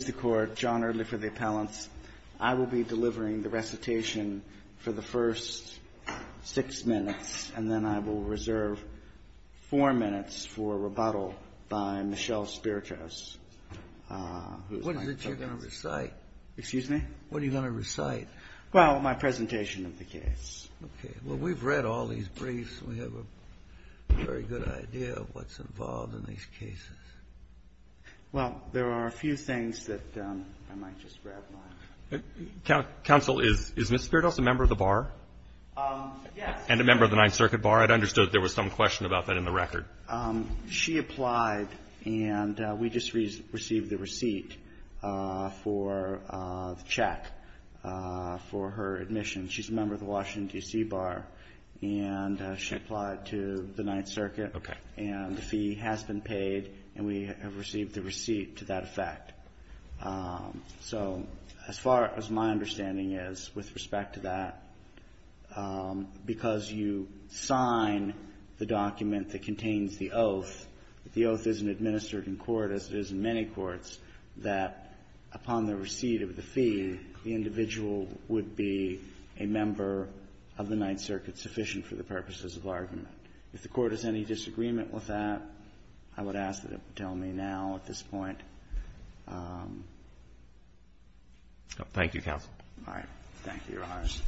Mr. Court, John Early for the appellants. I will be delivering the recitation for the first six minutes, and then I will reserve four minutes for rebuttal by Michelle Spirtos. What is it you're going to recite? Excuse me? What are you going to recite? Well, my presentation of the case. Okay. Well, we've read all these briefs, and we have a very good idea of what's involved in these cases. Well, there are a few things that I might just grab my own. Counsel, is Ms. Spirtos a member of the Bar? Yes. And a member of the Ninth Circuit Bar? I'd understood there was some question about that in the record. She applied, and we just received the receipt for the check for her admission. She's a member of the Washington, D.C. Bar, and she applied to the Ninth Circuit. Okay. And the fee has been paid, and we have received the receipt to that effect. So as far as my understanding is with respect to that, because you sign the document that contains the oath, the oath isn't administered in court as it is in many courts, that upon the receipt of the fee, the individual would be a member of the Ninth Circuit sufficient for the purposes of argument. If the Court has any disagreement with that, I would ask that it tell me now at this point. Thank you, counsel. All right. Thank you, Your Honors.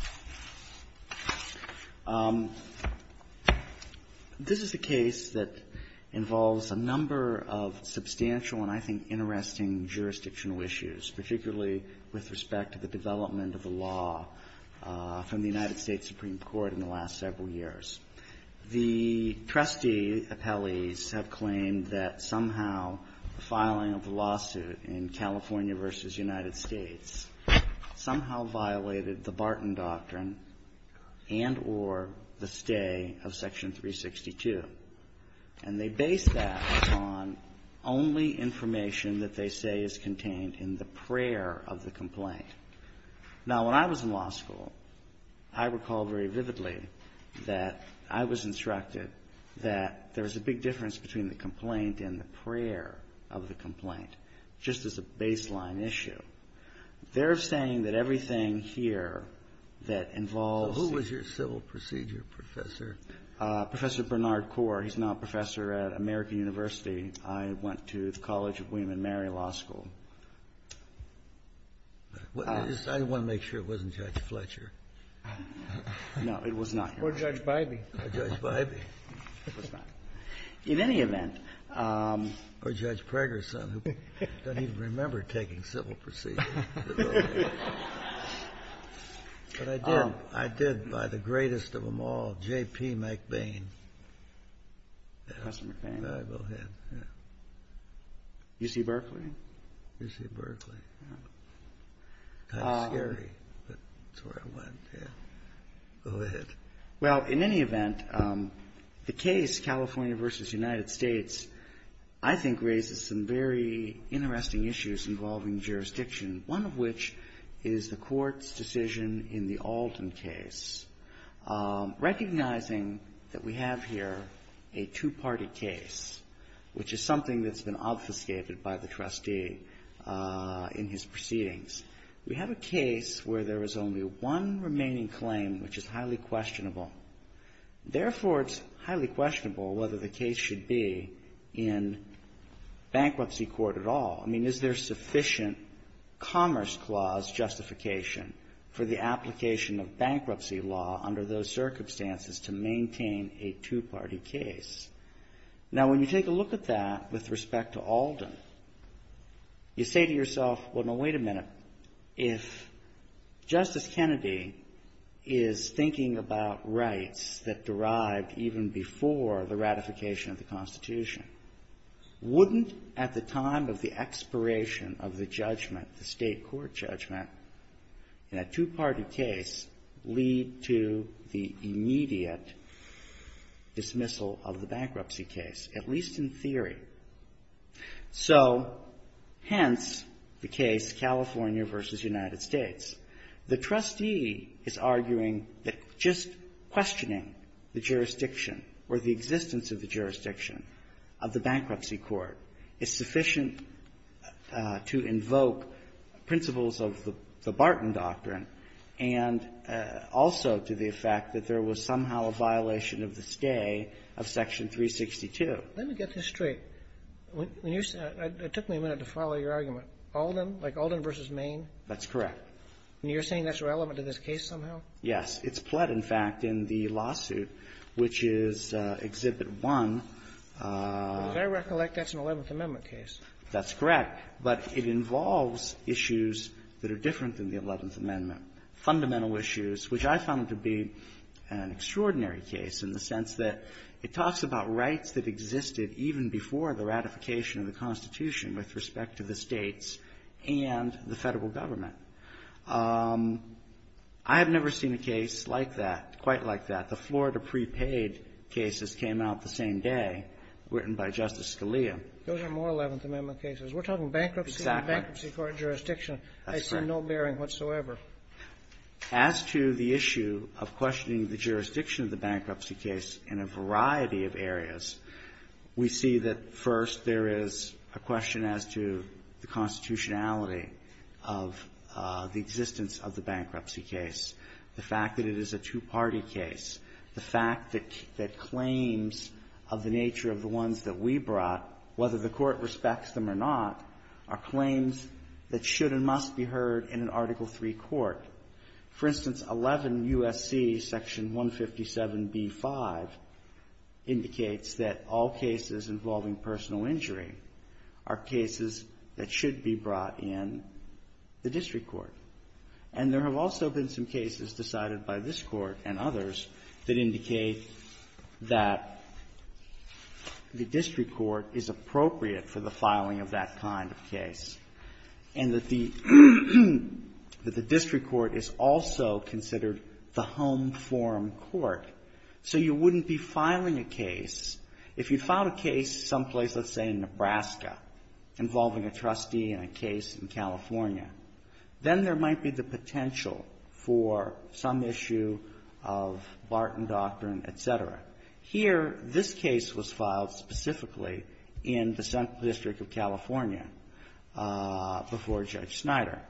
This is a case that involves a number of substantial and I think interesting jurisdictional issues, particularly with respect to the development of the law from the United States Supreme Court in the last several years. The trustee appellees have claimed that somehow the filing of the lawsuit in California v. United States somehow violated the Barton Doctrine and or the stay of Section 362. And they base that on only information that they say is contained in the prayer of the complaint. Now, when I was in law school, I recall very vividly that I was instructed that there was a big difference between the complaint and the prayer of the complaint, just as a baseline issue. They're saying that everything here that involves the ---- So who was your civil procedure professor? Professor Bernard Core. He's now a professor at American University. I went to the College of William and Mary Law School. I just want to make sure it wasn't Judge Fletcher. No, it was not. Or Judge Bybee. Or Judge Bybee. It was not. In any event ---- Or Judge Preggerson, who doesn't even remember taking civil procedure. But I did. I did by the greatest of them all, J.P. McBain. Professor McBain. Go ahead. UC Berkeley. Kind of scary, but that's where I went. Yeah. Go ahead. Well, in any event, the case, California v. United States, I think raises some very interesting issues involving jurisdiction, one of which is the court's decision in the Alton case. Recognizing that we have here a two-party case, which is something that's been obfuscated by the trustee in his proceedings, we have a case where there is only one remaining claim, which is highly questionable. Therefore, it's highly questionable whether the case should be in bankruptcy court at all. I mean, is there sufficient commerce clause justification for the application of bankruptcy law under those circumstances to maintain a two-party case? Now, when you take a look at that with respect to Alden, you say to yourself, well, no, wait a minute. If Justice Kennedy is thinking about rights that derived even before the ratification of the Constitution, wouldn't at the time of the expiration of the judgment, the state case, at least in theory. So hence the case, California v. United States. The trustee is arguing that just questioning the jurisdiction or the existence of the jurisdiction of the bankruptcy court is sufficient to invoke principles of the Barton Doctrine, and also to the effect that there was somehow a violation of the stay of Section 362. Let me get this straight. It took me a minute to follow your argument. Alden, like Alden v. Maine? That's correct. And you're saying that's relevant to this case somehow? Yes. It's pled, in fact, in the lawsuit, which is Exhibit 1. As I recollect, that's an Eleventh Amendment case. That's correct. But it involves issues that are different than the Eleventh Amendment, fundamental issues, which I found to be an extraordinary case in the sense that it talks about rights that existed even before the ratification of the Constitution with respect to the States and the Federal Government. I have never seen a case like that, quite like that. The Florida prepaid cases came out the same day, written by Justice Scalia. Those are more Eleventh Amendment cases. We're talking bankruptcy and bankruptcy court jurisdiction. That's correct. I see no bearing whatsoever. As to the issue of questioning the jurisdiction of the bankruptcy case in a variety of areas, we see that, first, there is a question as to the constitutionality of the existence of the bankruptcy case, the fact that it is a two-party case, the fact that claims of the nature of the ones that we brought, whether the Court respects them or not, are claims that should and must be heard in an Article III court. For instance, 11 U.S.C. section 157b-5 indicates that all cases involving personal injury are cases that should be brought in the district court. And there have also been some cases decided by this Court and others that indicate that the district court is appropriate for the filing of that kind of case, and that the district court is also considered the home form court. So you wouldn't be filing a case, if you filed a case someplace, let's say, in Nebraska, involving a trustee in a case in California, then there might be the potential for some issue of Barton doctrine, et cetera. Here, this case was filed specifically in the Central District of California before Judge Snyder.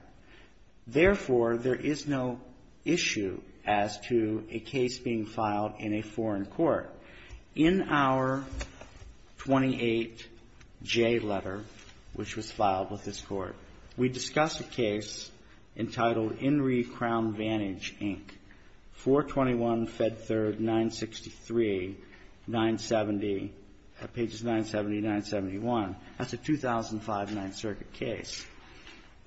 Therefore, there is no issue as to a case being filed in a foreign court. In our 28J letter, which was filed with this Court, we discussed a case entitled Inree Crown Vantage, Inc., 421 Fed 3rd, 963, 970, pages 970 to 971. That's a 2005 Ninth Circuit case.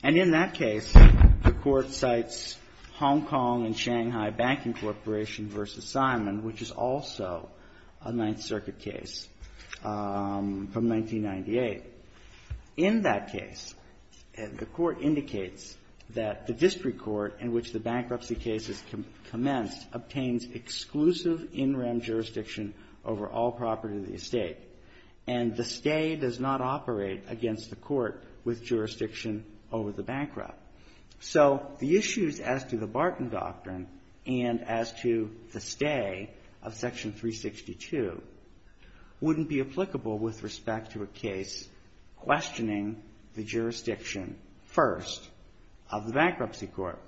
And in that case, the Court cites Hong Kong and Shanghai Banking Corporation v. Simon, which is also a Ninth Circuit case from 1998. In that case, the Court indicates that the district court in which the bankruptcy case is commenced obtains exclusive in rem jurisdiction over all property of the estate, and the stay does not operate against the court with jurisdiction over the bankrupt. So the issues as to the Barton doctrine and as to the stay of Section 362 wouldn't be applicable with respect to a case questioning the jurisdiction first of the Bankruptcy Court.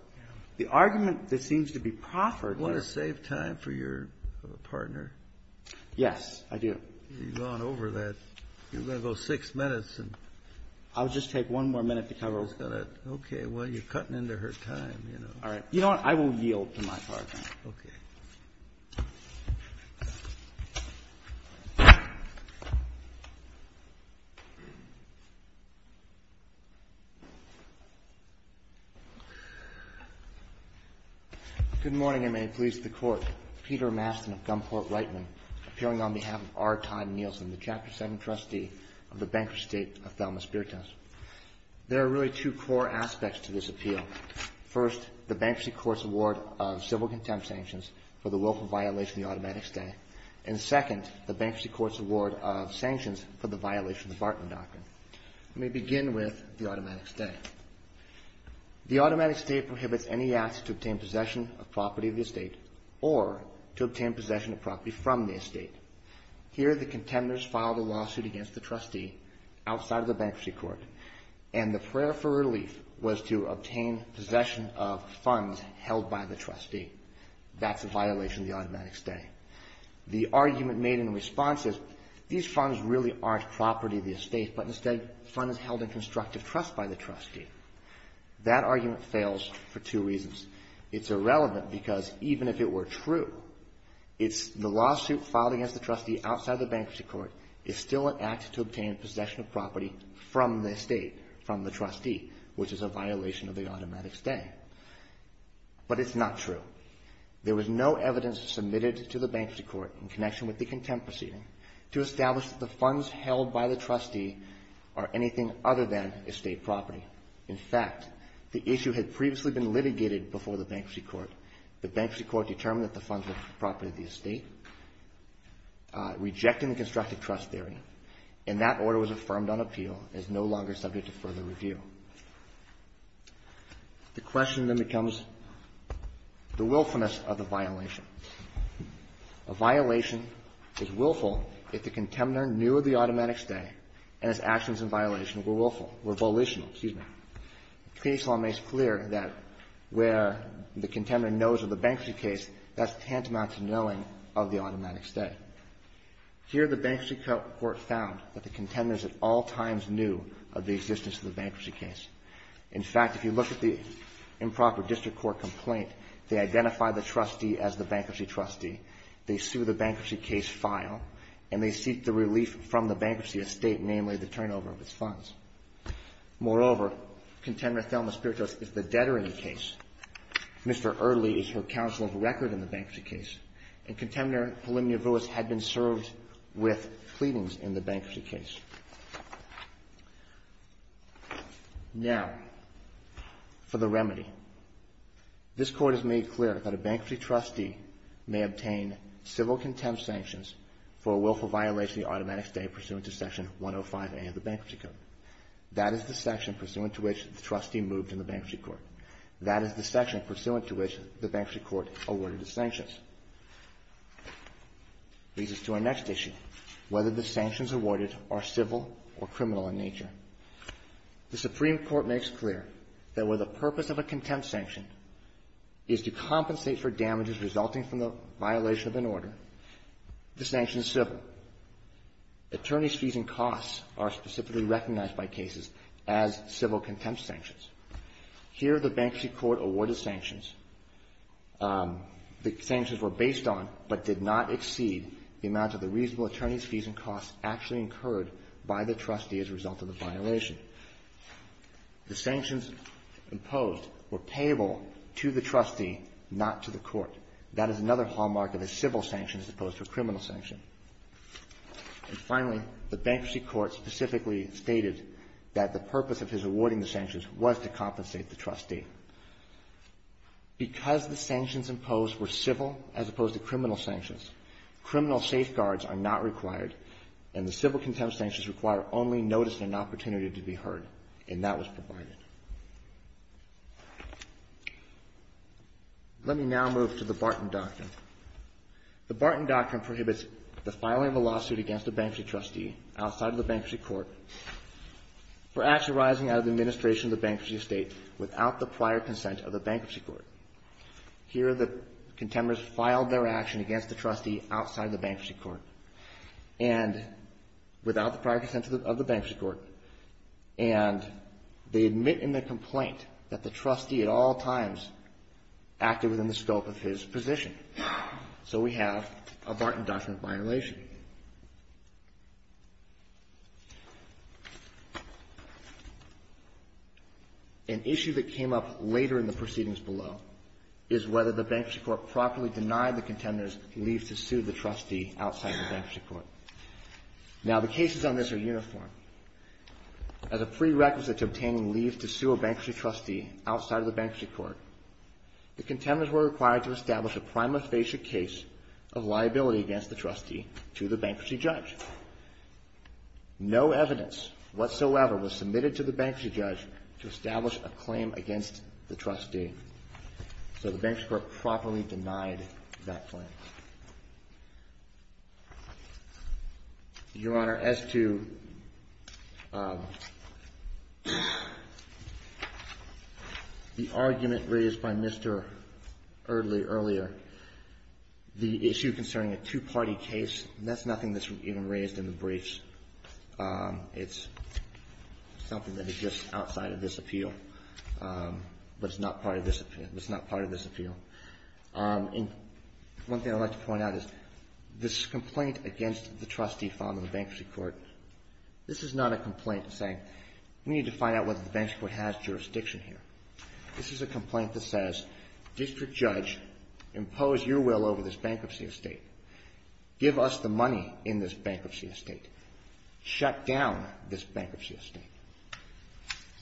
The argument that seems to be proffered here --- Kennedy, you want to save time for your partner? Yes, I do. You've gone over that. You're going to go six minutes. I'll just take one more minute to cover it. Okay. Well, you're cutting into her time, you know. All right. You know what? I will yield to my partner. Okay. Thank you. Good morning, and may it please the Court. Peter Mastin of Gumport-Reitman, appearing on behalf of R. Todd Nielsen, the Chapter 2nd Trustee of the Bankruptcy State of Thelma-Spiritus. First, the Bankruptcy Court's award of civil contempt sanctions for the willful violation of the automatic stay, and second, the Bankruptcy Court's award of sanctions for the violation of the Barton doctrine. Let me begin with the automatic stay. The automatic stay prohibits any asset to obtain possession of property of the estate or to obtain possession of property from the estate. Here, the contenders filed a lawsuit against the trustee outside of the Bankruptcy Court, and the prayer for relief was to obtain possession of funds held by the trustee. That's a violation of the automatic stay. The argument made in response is, these funds really aren't property of the estate, but instead funds held in constructive trust by the trustee. That argument fails for two reasons. It's irrelevant because even if it were true, the lawsuit filed against the trustee outside of the Bankruptcy Court is still an act to obtain possession of property from the estate, from the trustee, which is a violation of the automatic stay. But it's not true. There was no evidence submitted to the Bankruptcy Court in connection with the contempt proceeding to establish that the funds held by the trustee are anything other than estate property. In fact, the issue had previously been litigated before the Bankruptcy Court. The Bankruptcy Court determined that the funds were property of the estate, rejecting the constructive trust theory, and that order was affirmed on appeal and is no longer subject to further review. The question then becomes the willfulness of the violation. A violation is willful if the contender knew of the automatic stay and its actions in violation were volitional. The case law makes clear that where the contender knows of the bankruptcy case, that's tantamount to knowing of the automatic stay. Here, the Bankruptcy Court found that the contenders at all times knew of the existence of the bankruptcy case. In fact, if you look at the improper district court complaint, they identify the trustee as the bankruptcy trustee, they sue the bankruptcy case file, and they seek the relief from the bankruptcy estate, namely the turnover of its funds. Moreover, Contender Thelma Spiritus is the debtor in the case. Mr. Earley is her counsel of record in the bankruptcy case. And Contender Helene Neville had been served with pleadings in the bankruptcy case. Now, for the remedy. This Court has made clear that a bankruptcy trustee may obtain civil contempt sanctions for a willful violation of the automatic stay pursuant to Section 105A of the Bankruptcy Court. That is the section pursuant to which the trustee moved in the Bankruptcy Court. That is the section pursuant to which the Bankruptcy Court awarded the sanctions. This leads us to our next issue, whether the sanctions awarded are civil or criminal in nature. The Supreme Court makes clear that where the purpose of a contempt sanction is to compensate for damages resulting from the violation of an order, the sanction is civil. Attorneys' fees and costs are specifically recognized by cases as civil contempt sanctions. Here, the Bankruptcy Court awarded sanctions. The sanctions were based on, but did not exceed, the amount of the reasonable attorneys' fees and costs actually incurred by the trustee as a result of the violation. The sanctions imposed were payable to the trustee, not to the court. That is another hallmark of a civil sanction as opposed to a criminal sanction. And finally, the Bankruptcy Court specifically stated that the purpose of his awarding the sanctions was to compensate the trustee. Because the sanctions imposed were civil as opposed to criminal sanctions, criminal safeguards are not required, and the civil contempt sanctions require only notice and an opportunity to be heard, and that was provided. Let me now move to the Barton Doctrine. The Barton Doctrine prohibits the filing of a lawsuit against a bankruptcy trustee outside of the Bankruptcy Court for action arising out of the administration of the bankruptcy estate without the prior consent of the Bankruptcy Court. Here, the contenders filed their action against the trustee outside the Bankruptcy Court and without the prior consent of the Bankruptcy Court, and they admit in their complaint that the trustee at all times acted within the scope of his position. So we have a Barton Doctrine violation. An issue that came up later in the proceedings below is whether the Bankruptcy Court properly denied the contenders leave to sue the trustee outside the Bankruptcy Court. Now, the cases on this are uniform. As a prerequisite to obtaining leave to sue a bankruptcy trustee outside of the Bankruptcy Court, the contenders were required to establish a prima facie case of liability against the trustee to the bankruptcy judge. No evidence whatsoever was submitted to the bankruptcy judge to establish a claim against the trustee, so the Bankruptcy Court properly denied that claim. Your Honor, as to the argument raised by Mr. Erdley earlier, the issue concerning a two-party case, that's nothing that's even raised in the briefs. It's something that exists outside of this appeal, but it's not part of this appeal. And one thing I'd like to point out is this complaint against the trustee filed in the Bankruptcy Court, this is not a complaint saying, we need to find out whether the Bankruptcy Court has jurisdiction here. This is a complaint that says, District Judge, impose your will over this bankruptcy estate. Give us the money in this bankruptcy estate. Shut down this bankruptcy estate.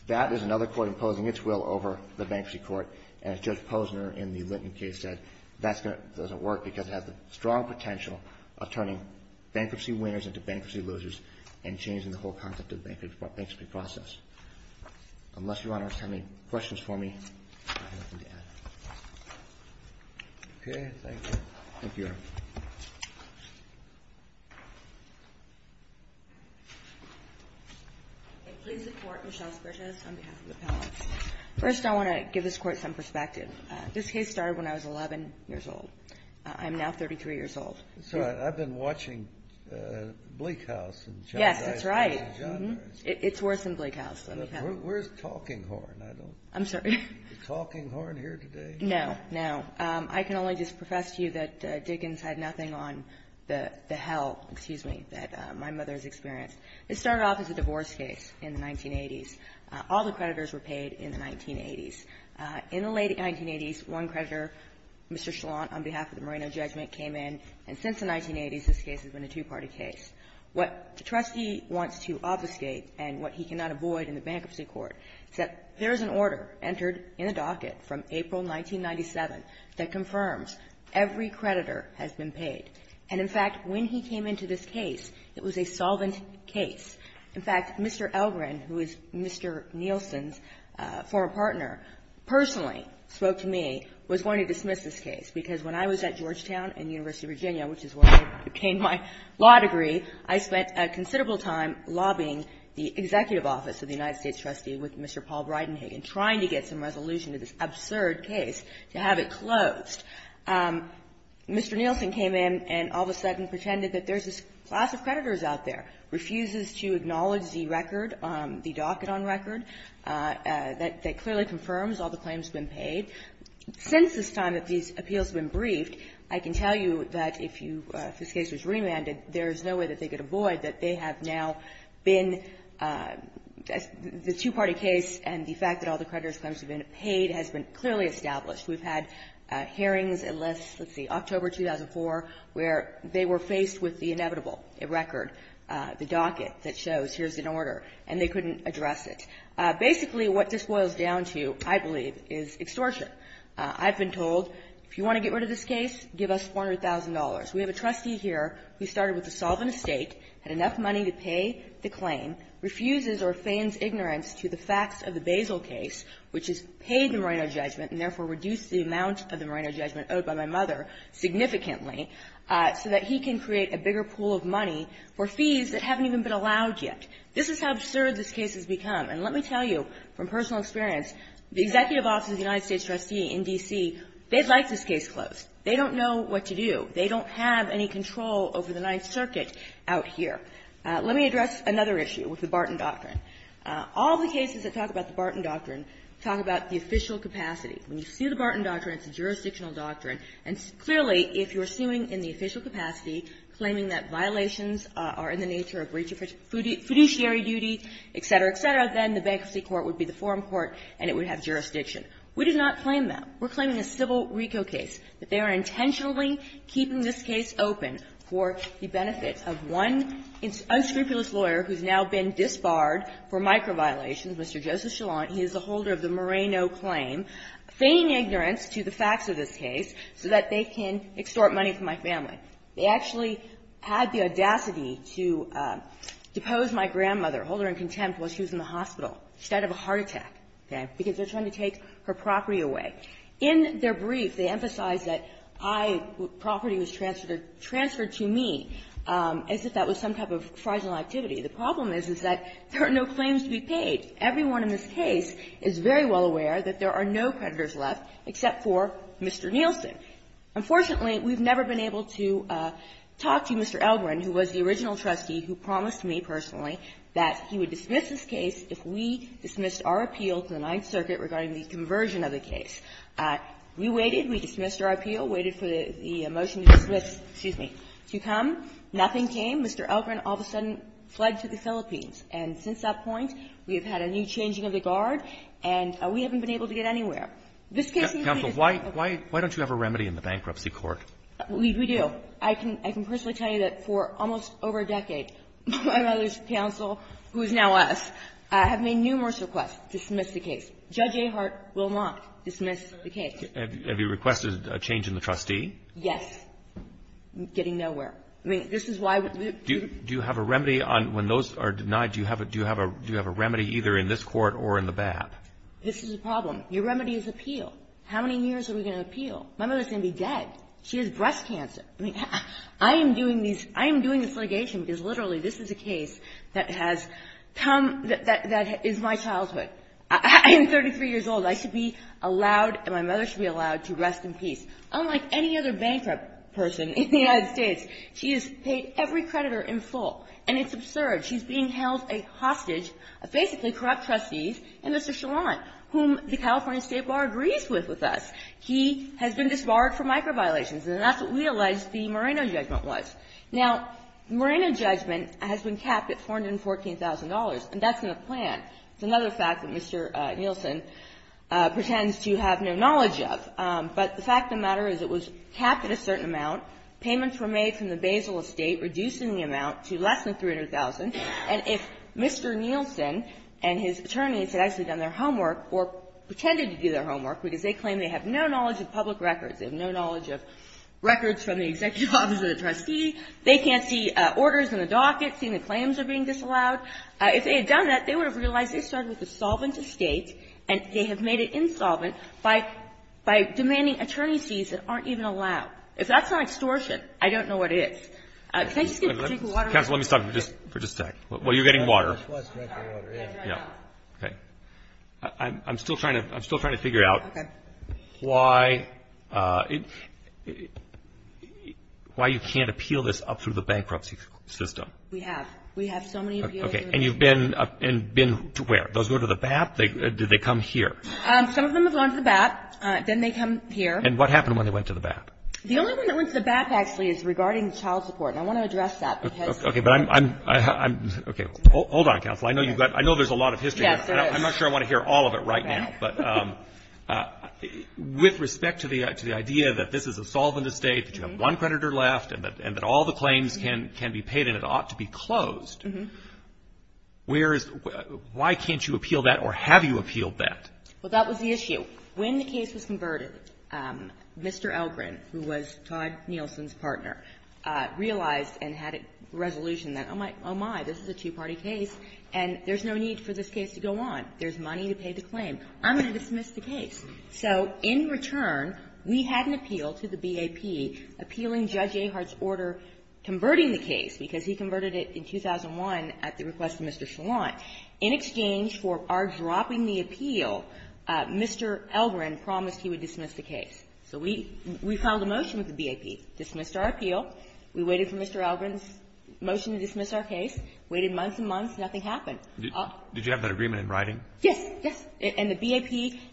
That is another court imposing its will over the Bankruptcy Court, and as Judge Posner in the Linton case said, that doesn't work because it has the strong potential of turning bankruptcy winners into bankruptcy losers and changing the whole concept of the bankruptcy process. Unless Your Honor has any questions for me, I have nothing to add. Okay. Thank you, Your Honor. Please support Michelle's purchase on behalf of the panel. First, I want to give this Court some perspective. This case started when I was 11 years old. I'm now 33 years old. So I've been watching Bleak House. Yes, that's right. It's worse than Bleak House. Where's Talking Horn? I'm sorry. Is Talking Horn here today? No, no. I can only just profess to you that Dickens had nothing on the hell, excuse me, that my mother has experienced. It started off as a divorce case in the 1980s. All the creditors were paid in the 1980s. In the late 1980s, one creditor, Mr. Chalant, on behalf of the Moreno judgment came in. And since the 1980s, this case has been a two-party case. What the trustee wants to obfuscate and what he cannot avoid in the bankruptcy court is that there is an order entered in the docket from April 1997 that confirms every creditor has been paid. And, in fact, when he came into this case, it was a solvent case. In fact, Mr. Elgren, who is Mr. Nielsen's former partner, personally spoke to me, was going to dismiss this case, because when I was at Georgetown and University of Virginia, which is where I obtained my law degree, I spent a considerable time lobbying the executive office of the United States trustee with Mr. Paul Bridenhagen, trying to get some resolution to this absurd case to have it closed. Mr. Nielsen came in and all of a sudden pretended that there's this class of creditors out there, refuses to acknowledge the record, the docket on record, that clearly confirms all the claims have been paid. Since this time that these appeals have been briefed, I can tell you that if you – if this case was remanded, there is no way that they could avoid that they have now been – the two-party case and the fact that all the creditors' claims have been paid has been clearly established. We've had hearings unless, let's see, October 2004, where they were faced with the docket that shows here's an order, and they couldn't address it. Basically, what this boils down to, I believe, is extortion. I've been told, if you want to get rid of this case, give us $400,000. We have a trustee here who started with a solvent estate, had enough money to pay the claim, refuses or feigns ignorance to the facts of the Basil case, which has paid the Moreno judgment and therefore reduced the amount of the Moreno judgment owed by my mother significantly, so that he can create a bigger pool of money for fees that haven't even been allowed yet. This is how absurd this case has become. And let me tell you from personal experience, the Executive Office of the United States Trustee in D.C., they'd like this case closed. They don't know what to do. They don't have any control over the Ninth Circuit out here. Let me address another issue with the Barton Doctrine. All the cases that talk about the Barton Doctrine talk about the official capacity. When you see the Barton Doctrine, it's a jurisdictional doctrine. And clearly, if you're suing in the official capacity, claiming that violations are in the nature of breach of fiduciary duty, et cetera, et cetera, then the bankruptcy court would be the forum court, and it would have jurisdiction. We do not claim that. We're claiming a civil RICO case, that they are intentionally keeping this case open for the benefit of one unscrupulous lawyer who's now been disbarred for micro-violations, Mr. Joseph Chalant. He is the holder of the Moreno claim, feigning ignorance to the facts of this case, so that they can extort money from my family. They actually had the audacity to depose my grandmother, hold her in contempt while she was in the hospital, instead of a heart attack, okay, because they're trying to take her property away. In their brief, they emphasize that I was – property was transferred to me as if that was some type of fraisal activity. The problem is, is that there are no claims to be paid. Everyone in this case is very well aware that there are no predators left except for Mr. Nielsen. Unfortunately, we've never been able to talk to Mr. Elgrin, who was the original trustee, who promised me personally that he would dismiss this case if we dismissed our appeal to the Ninth Circuit regarding the conversion of the case. We waited. We dismissed our appeal, waited for the motion to dismiss. Excuse me. To come, nothing came. Mr. Elgrin all of a sudden fled to the Philippines. And since that point, we have had a new changing of the guard, and we haven't been able to get anywhere. This case is a case of the court. Counsel, why don't you have a remedy in the bankruptcy court? We do. I can personally tell you that for almost over a decade, my mother's counsel, who is now us, have made numerous requests to dismiss the case. Judge Ahart will not dismiss the case. Have you requested a change in the trustee? Yes. Getting nowhere. I mean, this is why we do it. Do you have a remedy on – when those are denied, do you have a remedy either in this court or in the BAP? This is a problem. Your remedy is appeal. How many years are we going to appeal? My mother's going to be dead. She has breast cancer. I mean, I am doing these – I am doing this litigation because, literally, this is a case that has come – that is my childhood. I am 33 years old. I should be allowed – my mother should be allowed to rest in peace. Unlike any other bankrupt person in the United States, she has paid every creditor in full. And it's absurd. She's being held a hostage, basically corrupt trustees, and Mr. Challant, whom the California State Bar agrees with with us, he has been disbarred for micro-violations. And that's what we allege the Moreno judgment was. Now, Moreno judgment has been capped at $414,000, and that's in the plan. It's another fact that Mr. Nielsen pretends to have no knowledge of. But the fact of the matter is it was capped at a certain amount. Payments were made from the Basel estate, reducing the amount to less than $300,000. And if Mr. Nielsen and his attorneys had actually done their homework or pretended to do their homework because they claim they have no knowledge of public records, they have no knowledge of records from the executive office or the trustee, they can't see orders in the docket, see the claims are being disallowed, if they had done that, they would have realized they started with a solvent estate, and they have made it insolvent by – by demanding attorney's fees that aren't even allowed. If that's not extortion, I don't know what it is. Can I just get a drink of water? Counsel, let me stop you for just a sec. Well, you're getting water. I just want a drink of water, yeah. Yeah. Okay. I'm still trying to – I'm still trying to figure out why – why you can't appeal this up through the bankruptcy system. We have. We have so many appeals. Okay. And you've been – and been to where? Those go to the BAP? Do they come here? Some of them have gone to the BAP. Then they come here. And what happened when they went to the BAP? The only one that went to the BAP, actually, is regarding child support. And I want to address that because – Okay. But I'm – I'm – okay. Hold on, Counsel. I know you've got – I know there's a lot of history. Yes, there is. I'm not sure I want to hear all of it right now. Right. But with respect to the – to the idea that this is a solvent estate, that you have one creditor left, and that – and that all the claims can – can be paid and it ought to be closed, where is – why can't you appeal that, or have you appealed that? Well, that was the issue. When the case was converted, Mr. Elgrin, who was Todd Nielsen's partner, realized and had a resolution that, oh, my, oh, my, this is a two-party case, and there's no need for this case to go on. There's money to pay the claim. I'm going to dismiss the case. So in return, we had an appeal to the BAP appealing Judge Ahart's order converting the case, because he converted it in 2001 at the request of Mr. Shallant. In exchange for our dropping the appeal, Mr. Elgrin promised he would dismiss the case. So we – we filed a motion with the BAP, dismissed our appeal. We waited for Mr. Elgrin's motion to dismiss our case, waited months and months. Nothing happened. Did you have that agreement in writing? Yes. Yes. And the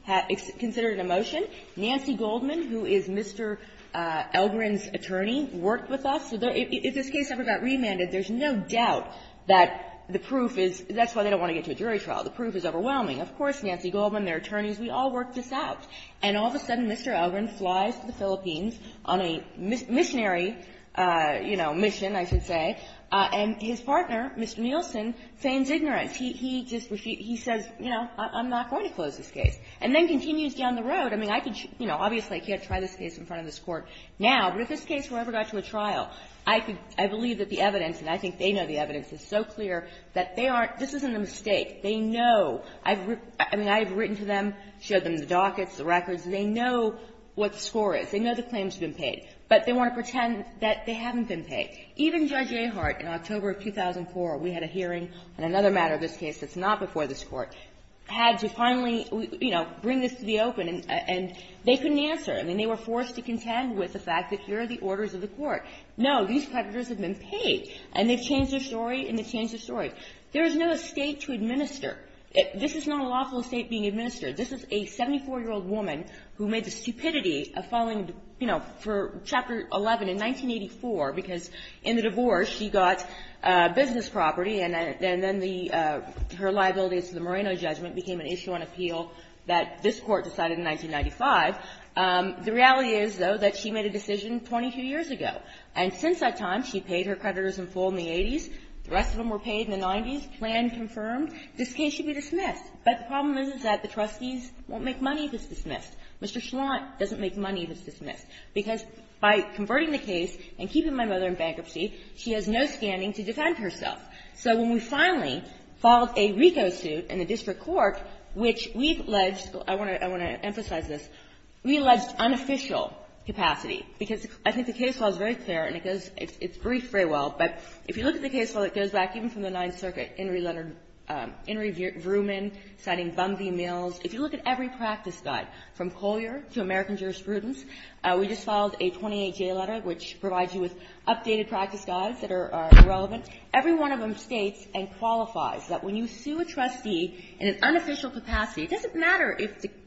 BAP considered a motion. Nancy Goldman, who is Mr. Elgrin's attorney, worked with us. If this case ever got remanded, there's no doubt that the proof is – that's why they don't want to get to a jury trial. The proof is overwhelming. Of course, Nancy Goldman, their attorneys, we all worked this out. And all of a sudden, Mr. Elgrin flies to the Philippines on a missionary, you know, mission, I should say, and his partner, Mr. Nielsen, feigns ignorance. He just – he says, you know, I'm not going to close this case. And then continues down the road. I mean, I could – you know, obviously, I can't try this case in front of this Court now, but if this case ever got to a trial, I could – I believe that the evidence and I think they know the evidence is so clear that they aren't – this isn't a mistake. They know. I've – I mean, I have written to them, showed them the dockets, the records, and they know what the score is. They know the claim's been paid. But they want to pretend that they haven't been paid. Even Judge Ahart, in October of 2004, we had a hearing on another matter of this case that's not before this Court, had to finally, you know, bring this to the open, and they couldn't answer. I mean, they were forced to contend with the fact that here are the orders of the Court. No. These predators have been paid. And they've changed their story, and they've changed their story. There is no estate to administer. This is not a lawful estate being administered. This is a 74-year-old woman who made the stupidity of filing, you know, for Chapter 11 in 1984, because in the divorce, she got business property, and then the – her liabilities to the Moreno judgment became an issue on appeal that this Court decided in 1995. The reality is, though, that she made a decision 22 years ago. And since that time, she paid her creditors in full in the 80s. The rest of them were paid in the 90s. Plan confirmed. This case should be dismissed. But the problem is that the trustees won't make money if it's dismissed. Mr. Schlant doesn't make money if it's dismissed. Because by converting the case and keeping my mother in bankruptcy, she has no standing to defend herself. So when we finally filed a RICO suit in the district court, which we've led – I want to emphasize this – we alleged unofficial capacity. Because I think the case law is very clear, and it goes – it's briefed very well, but if you look at the case law that goes back even from the Ninth Circuit, In re Letter – In re Vrooman, citing Bunvey Mills, if you look at every practice guide, from Collier to American Jurisprudence, we just filed a 28-J letter, which provides you with updated practice guides that are relevant. Every one of them states and qualifies that when you sue a trustee in an unofficial capacity, it doesn't matter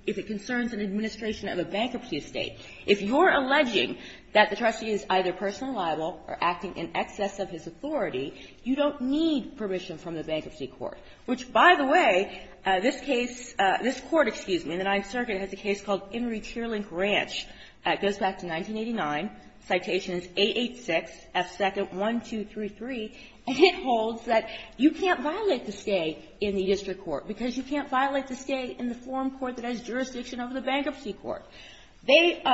if it concerns an administration of a bankruptcy estate. If you're alleging that the trustee is either personally liable or acting in excess of his authority, you don't need permission from the Bankruptcy Court. Which, by the way, this case – this Court, excuse me, in the Ninth Circuit, has a case called In re Cheerlink Ranch. It goes back to 1989. Citation is A86, F2nd1233, and it holds that you can't violate the state in the district court, because you can't violate the state in the forum court that has jurisdiction over the Bankruptcy Court. They –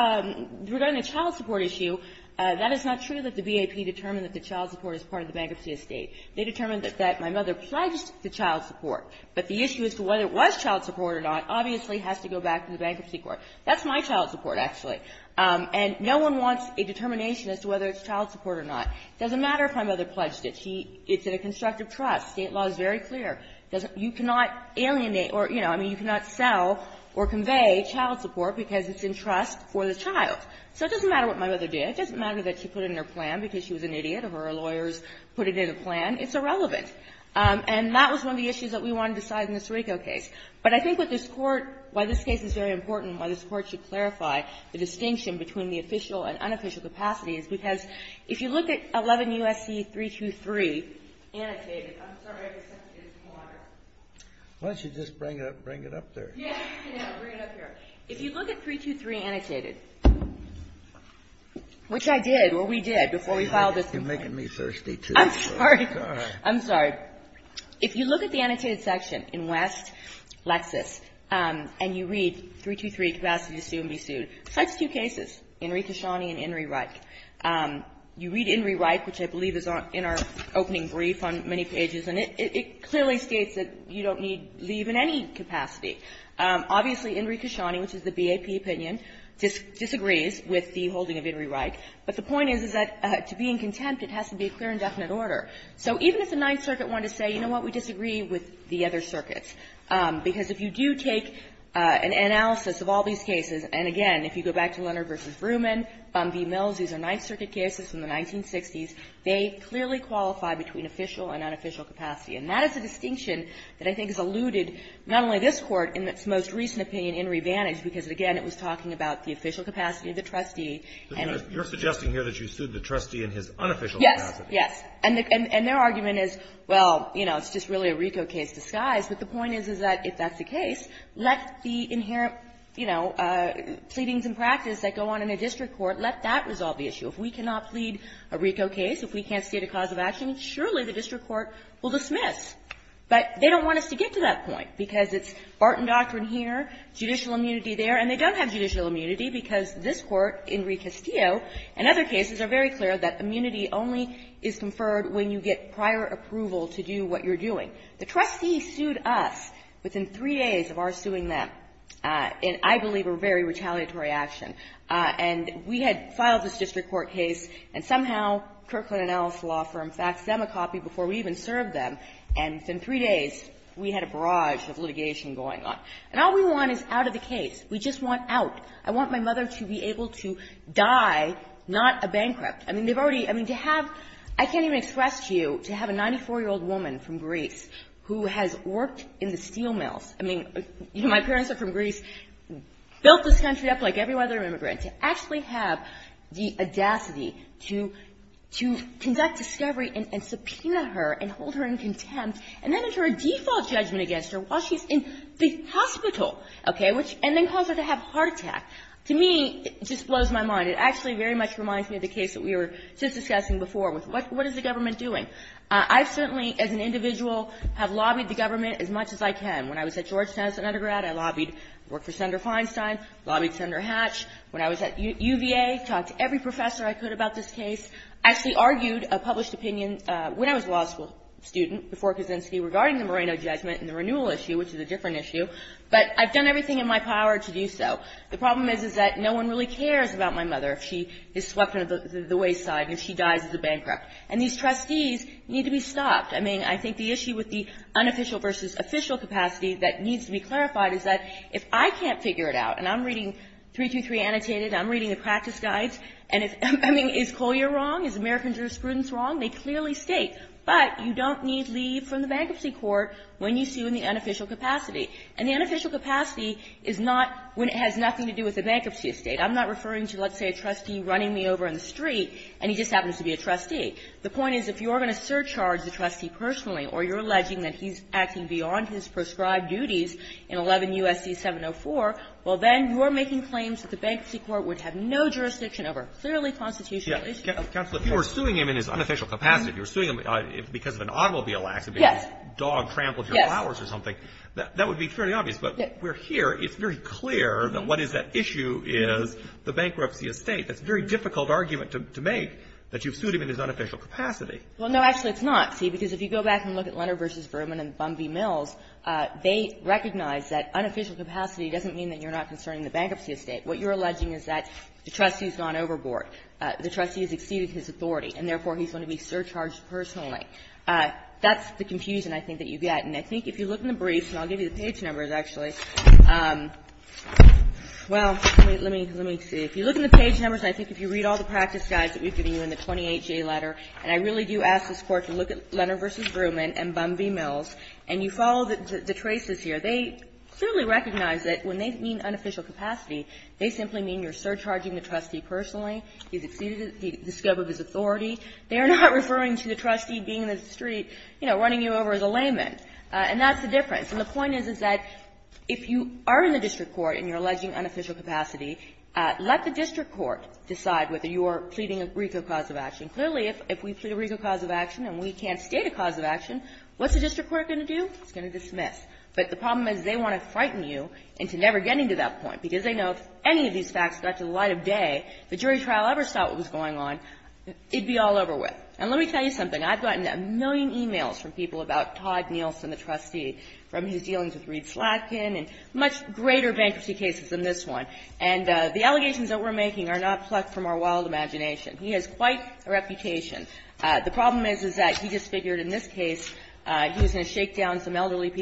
regarding the child support issue, that is not true that the BAP determined that the child support is part of the bankruptcy estate. They determined that my mother pledged the child support. But the issue as to whether it was child support or not obviously has to go back to the Bankruptcy Court. That's my child support, actually. And no one wants a determination as to whether it's child support or not. It doesn't matter if my mother pledged it. It's in a constructive trust. State law is very clear. It doesn't – you cannot alienate or, you know, I mean, you cannot sell or convey child support because it's in trust for the child. So it doesn't matter what my mother did. It doesn't matter that she put it in her plan because she was an idiot or her lawyers put it in a plan. It's irrelevant. And that was one of the issues that we wanted to decide in the Sirico case. But I think what this Court – why this case is very important, why this Court should clarify the distinction between the official and unofficial capacities, because if you look at 11 U.S.C. 323, annotated – I'm sorry. Why don't you just bring it up there? Yes. Bring it up here. If you look at 323, annotated, which I did. Well, we did before we filed this complaint. You're making me thirsty, too. I'm sorry. It's all right. I'm sorry. If you look at the annotated section in West, Lexis, and you read 323, capacity to sue and be sued, such two cases, Inri Kishani and Inri Reich. You read Inri Reich, which I believe is in our opening brief on many pages, and it clearly states that you don't need leave in any capacity. Obviously, Inri Kishani, which is the BAP opinion, disagrees with the holding of Inri Reich, but the point is, is that to be in contempt, it has to be a clear and definite order. So even if the Ninth Circuit wanted to say, you know what, we disagree with the other circuits, because if you do take an analysis of all these cases, and again, if you go back to Leonard v. Vrooman, Von V. Mills, these are Ninth Circuit cases from the And that is a distinction that I think has alluded not only this Court in its most recent opinion, Inri Vantage, because, again, it was talking about the official capacity of the trustee. But you're suggesting here that you sued the trustee in his unofficial capacity. Yes. Yes. And their argument is, well, you know, it's just really a RICO case disguised. But the point is, is that if that's the case, let the inherent, you know, pleadings in practice that go on in a district court, let that resolve the issue. If we cannot plead a RICO case, if we can't state a cause of action, surely the district court will dismiss. But they don't want us to get to that point, because it's Barton doctrine here, judicial immunity there, and they don't have judicial immunity, because this Court, Inri Castillo, and other cases are very clear that immunity only is conferred when you get prior approval to do what you're doing. The trustee sued us within three days of our suing them in, I believe, a very retaliatory action. And we had filed this district court case, and somehow Kirkland & Ellis law firm faxed them a copy before we even served them. And within three days, we had a barrage of litigation going on. And all we want is out of the case. We just want out. I want my mother to be able to die, not a bankrupt. I mean, they've already – I mean, to have – I can't even express to you, to have a 94-year-old woman from Greece who has worked in the steel mills – I mean, you know, my parents are from Greece – built this country up like every other immigrant, to actually have the audacity to conduct discovery and subpoena her and hold her in contempt, and then enter a default judgment against her while she's in the hospital, okay, which – and then cause her to have a heart attack. To me, it just blows my mind. It actually very much reminds me of the case that we were just discussing before with what is the government doing. I've certainly, as an individual, have lobbied the government as much as I can. I was at UVA, talked to every professor I could about this case, actually argued a published opinion when I was a law school student before Kaczynski regarding the Moreno judgment and the renewal issue, which is a different issue. But I've done everything in my power to do so. The problem is, is that no one really cares about my mother if she is swept into the wayside and she dies as a bankrupt. And these trustees need to be stopped. I mean, I think the issue with the unofficial versus official capacity that needs to be clarified is that if I can't figure it out – and I'm reading 323 annotated, I'm reading the practice guides, and I mean, is Collier wrong? Is American jurisprudence wrong? They clearly state, but you don't need leave from the bankruptcy court when you sue in the unofficial capacity. And the unofficial capacity is not when it has nothing to do with the bankruptcy estate. I'm not referring to, let's say, a trustee running me over in the street, and he just happens to be a trustee. The point is, if you're going to surcharge the trustee personally or you're alleging that he's acting beyond his prescribed duties in 11 U.S.C. 704, well, then you're making claims that the bankruptcy court would have no jurisdiction over a clearly constitutional issue. Counsel, if you were suing him in his unofficial capacity, if you were suing him because of an automobile accident, because his dog trampled your flowers or something, that would be fairly obvious. But we're here. It's very clear that what is at issue is the bankruptcy estate. It's a very difficult argument to make that you've sued him in his unofficial capacity. Well, no, actually, it's not, see, because if you go back and look at Leonard v. Berman and Bumby Mills, they recognize that unofficial capacity doesn't mean that you're not concerning the bankruptcy estate. What you're alleging is that the trustee has gone overboard. The trustee has exceeded his authority, and therefore, he's going to be surcharged personally. That's the confusion, I think, that you get. And I think if you look in the briefs, and I'll give you the page numbers, actually. Well, let me see. If you look in the page numbers, and I think if you read all the practice guides that we've given you in the 28-J letter, and I really do ask this Court to look at Leonard v. Berman and Bumby Mills, and you follow the traces here, they clearly recognize that when they mean unofficial capacity, they simply mean you're surcharging the trustee personally. He's exceeded the scope of his authority. They are not referring to the trustee being in the street, you know, running you over as a layman. And that's the difference. And the point is, is that if you are in the district court and you're alleging unofficial capacity, let the district court decide whether you are pleading a RICO cause of action. Clearly, if we plead a RICO cause of action and we can't state a cause of action, what's the district court going to do? It's going to dismiss. But the problem is they want to frighten you into never getting to that point, because they know if any of these facts got to the light of day, if the jury trial ever saw what was going on, it'd be all over with. And let me tell you something. I've gotten a million e-mails from people about Todd Nielsen, the trustee, from his dealings with Reed Slatkin, and much greater bankruptcy cases than this one. And the allegations that we're making are not plucked from our wild imagination. He has quite a reputation. The problem is, is that he just figured in this case he was going to shake down some And,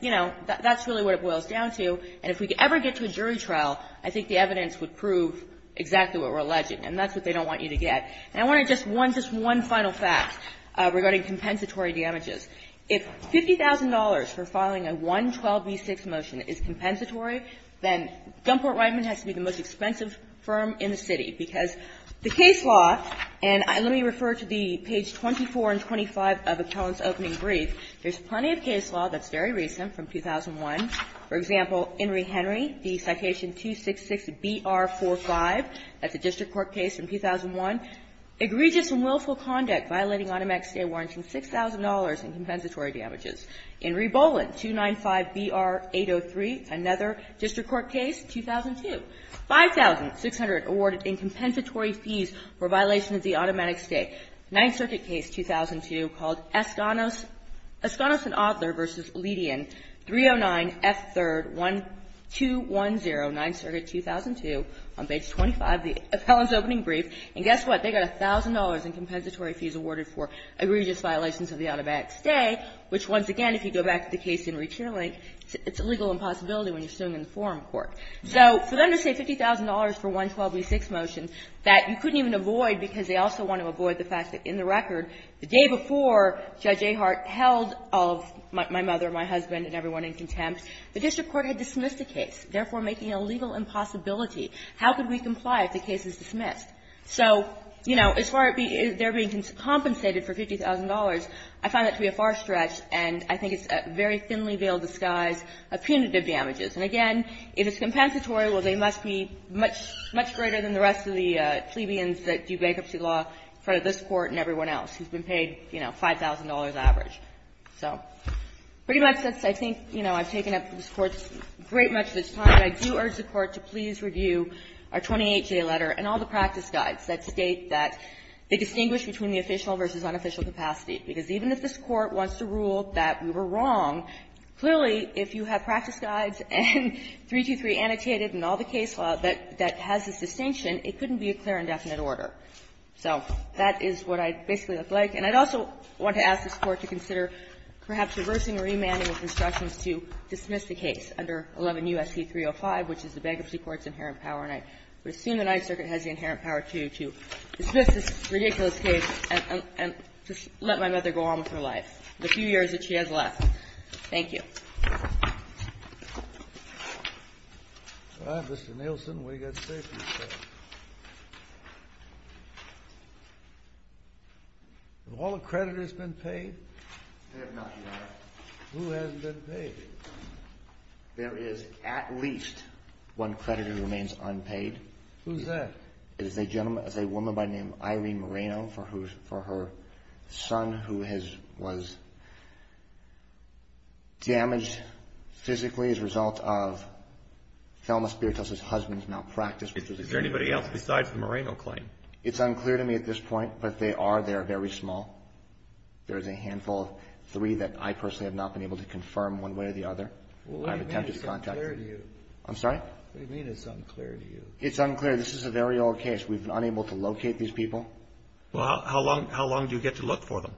you know, that's really what it boils down to. And if we could ever get to a jury trial, I think the evidence would prove exactly what we're alleging. And that's what they don't want you to get. And I want to just one final fact regarding compensatory damages. If $50,000 for filing a 112b6 motion is compensatory, then Dunport-Reitman has to be the most expensive firm in the city, because the case law, and let me refer to the page 24 and 25 of Appellant's opening brief, there's plenty of case law that's very recent from 2001. For example, In re. Henry, the citation 266BR45. That's a district court case from 2001. Egregious and willful conduct violating automatic stay warranting $6,000 in compensatory damages. In re. Boland, 295BR803, another district court case, 2002. $5,600 awarded in compensatory fees for violation of the automatic stay. Ninth Circuit case, 2002, called Escanos and Adler v. Ledean, 309F3-210, Ninth Circuit, 2002, on page 25 of Appellant's opening brief. And guess what? They got $1,000 in compensatory fees awarded for egregious violations of the automatic stay, which, once again, if you go back to the case in re. Cherlink, it's a legal impossibility when you're sitting in the forum court. So for them to say $50,000 for 112B6 motion that you couldn't even avoid because they also want to avoid the fact that in the record, the day before Judge Ahart held my mother, my husband and everyone in contempt, the district court had dismissed the case, therefore making a legal impossibility. How could we comply if the case is dismissed? So, you know, as far as there being compensated for $50,000, I find that to be a far stretch, and I think it's a very thinly veiled disguise of punitive damages. And again, if it's compensatory, well, they must be much, much greater than the rest of the plebeians that do bankruptcy law in front of this Court and everyone else who's been paid, you know, $5,000 average. So pretty much since I think, you know, I've taken up this Court's great much of this time, I do urge the Court to please review our 28J letter and all the practice guides that state that they distinguish between the official versus unofficial capacity, because even if this Court wants to rule that we were wrong, clearly, if you have practice guides and 323 annotated and all the case law that has this distinction, it couldn't be a clear and definite order. So that is what I basically look like. And I'd also want to ask this Court to consider perhaps reversing or remanding with instructions to dismiss the case under 11 U.S.C. 305, which is the Bankruptcy Court's inherent power, and I would assume the Ninth Circuit has the inherent power to dismiss this ridiculous case and just let my mother go on with her life, the few years that she has left. Thank you. Well, Mr. Nielsen, what do you got to say for yourself? Have all the creditors been paid? They have not, Your Honor. Who hasn't been paid? There is at least one creditor who remains unpaid. Who's that? It is a woman by the name of Irene Moreno for her son who was damaged physically as a result of thelma spiritus' husband's malpractice. Is there anybody else besides the Moreno claim? It's unclear to me at this point, but they are. They are very small. There is a handful of three that I personally have not been able to confirm one way or the other. What do you mean it's unclear to you? I'm sorry? What do you mean it's unclear to you? It's unclear. This is a very old case. We've been unable to locate these people. Well, how long do you get to look for them?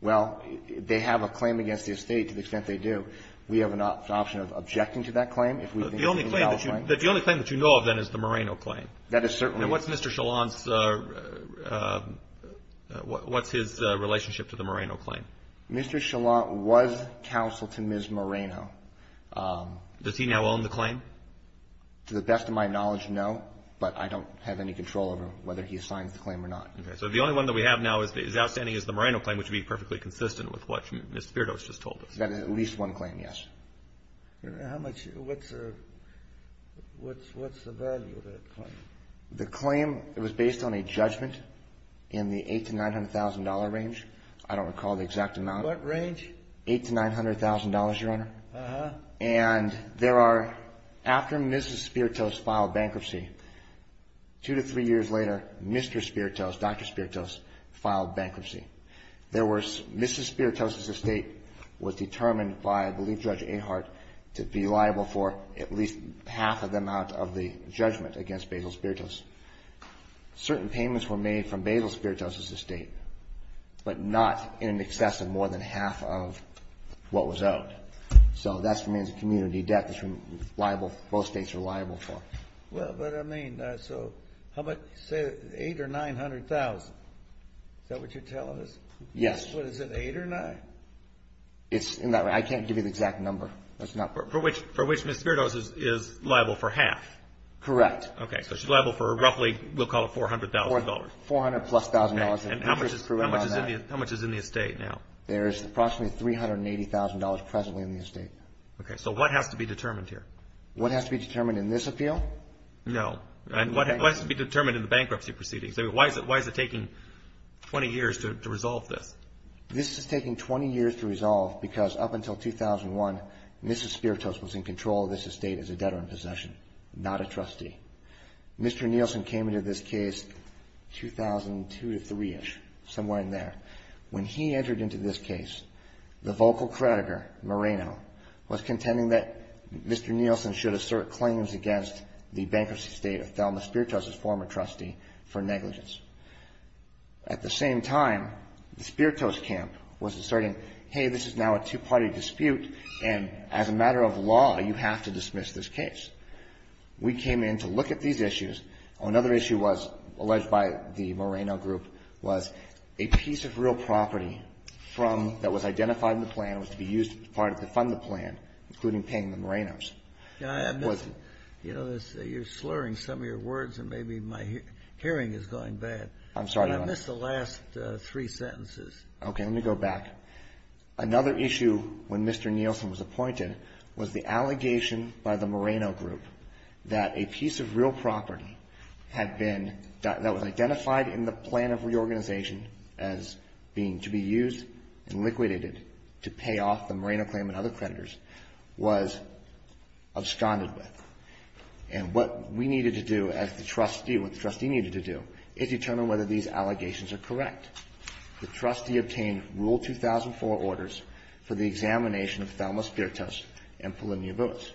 Well, they have a claim against the estate to the extent they do. We have an option of objecting to that claim. The only claim that you know of then is the Moreno claim. That is certainly. And what's Mr. Chalant's, what's his relationship to the Moreno claim? Does he now own the claim? To the best of my knowledge, no. But I don't have any control over whether he signs the claim or not. So the only one that we have now that is outstanding is the Moreno claim, which would be perfectly consistent with what Ms. Spiritus just told us. That is at least one claim, yes. What's the value of that claim? The claim was based on a judgment in the $800,000 to $900,000 range. I don't recall the exact amount. What range? $800,000 to $900,000, Your Honor. Uh-huh. And there are, after Ms. Spiritus filed bankruptcy, two to three years later, Mr. Spiritus, Dr. Spiritus filed bankruptcy. Ms. Spiritus' estate was determined by, I believe, Judge Ahart to be liable for at least half of the amount of the judgment against Basil Spiritus. Certain payments were made from Basil Spiritus' estate, but not in excess of more than half of what was owed. So that remains a community debt that's liable, both states are liable for. Well, but I mean, so how about say $800,000 or $900,000? Is that what you're telling us? Yes. Is it $800,000 or $900,000? It's in that range. I can't give you the exact number. For which Ms. Spiritus is liable for half? Correct. Okay, so she's liable for roughly, we'll call it $400,000. $400,000 plus thousand dollars. And how much is in the estate now? There is approximately $380,000 presently in the estate. Okay, so what has to be determined here? What has to be determined in this appeal? No. What has to be determined in the bankruptcy proceedings? Why is it taking 20 years to resolve this? This is taking 20 years to resolve because up until 2001, Ms. Spiritus was in control of this estate as a debtor in possession, not a trustee. Mr. Nielsen came into this case 2002 to 2003-ish, somewhere in there. When he entered into this case, the vocal creditor, Moreno, was contending that Mr. Nielsen should assert claims against the bankruptcy state of Thelma Spiritus' former trustee for negligence. At the same time, the Spiritus camp was asserting, hey, this is now a two-party dispute and as a matter of law, you have to dismiss this case. We came in to look at these issues. Another issue alleged by the Moreno group was a piece of real property that was identified in the plan was to be used as part of the fund the plan, including paying the Morenos. You're slurring some of your words and maybe my hearing is going bad. I'm sorry, Your Honor. I missed the last three sentences. Okay, let me go back. Another issue when Mr. Nielsen was appointed was the allegation by the Moreno group that a piece of real property that was identified in the plan of reorganization as being to be used and liquidated to pay off the Moreno claim and other creditors was absconded with. And what we needed to do as the trustee, what the trustee needed to do, is determine whether these allegations are correct. The trustee obtained Rule 2004 orders for the examination of Thelma Spiritus and Polymnia Vuis.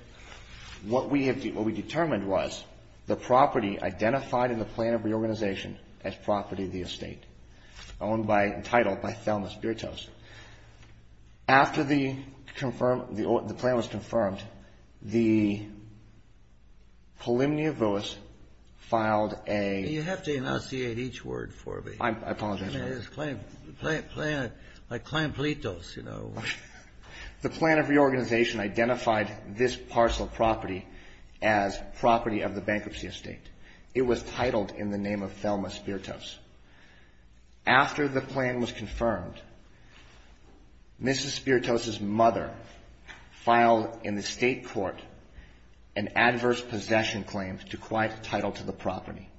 What we determined was the property identified in the plan of reorganization as property of the estate, owned by, entitled by Thelma Spiritus. After the plan was confirmed, the Polymnia Vuis filed a... You have to enunciate each word for me. I apologize, Your Honor. It's a claim, a claim, a claimpletos, you know. The plan of reorganization identified this parcel of property as property of the bankruptcy estate. It was titled in the name of Thelma Spiritus. After the plan was confirmed, Mrs. Spiritus' mother filed in the state court an adverse possession claim to quiet title to the property.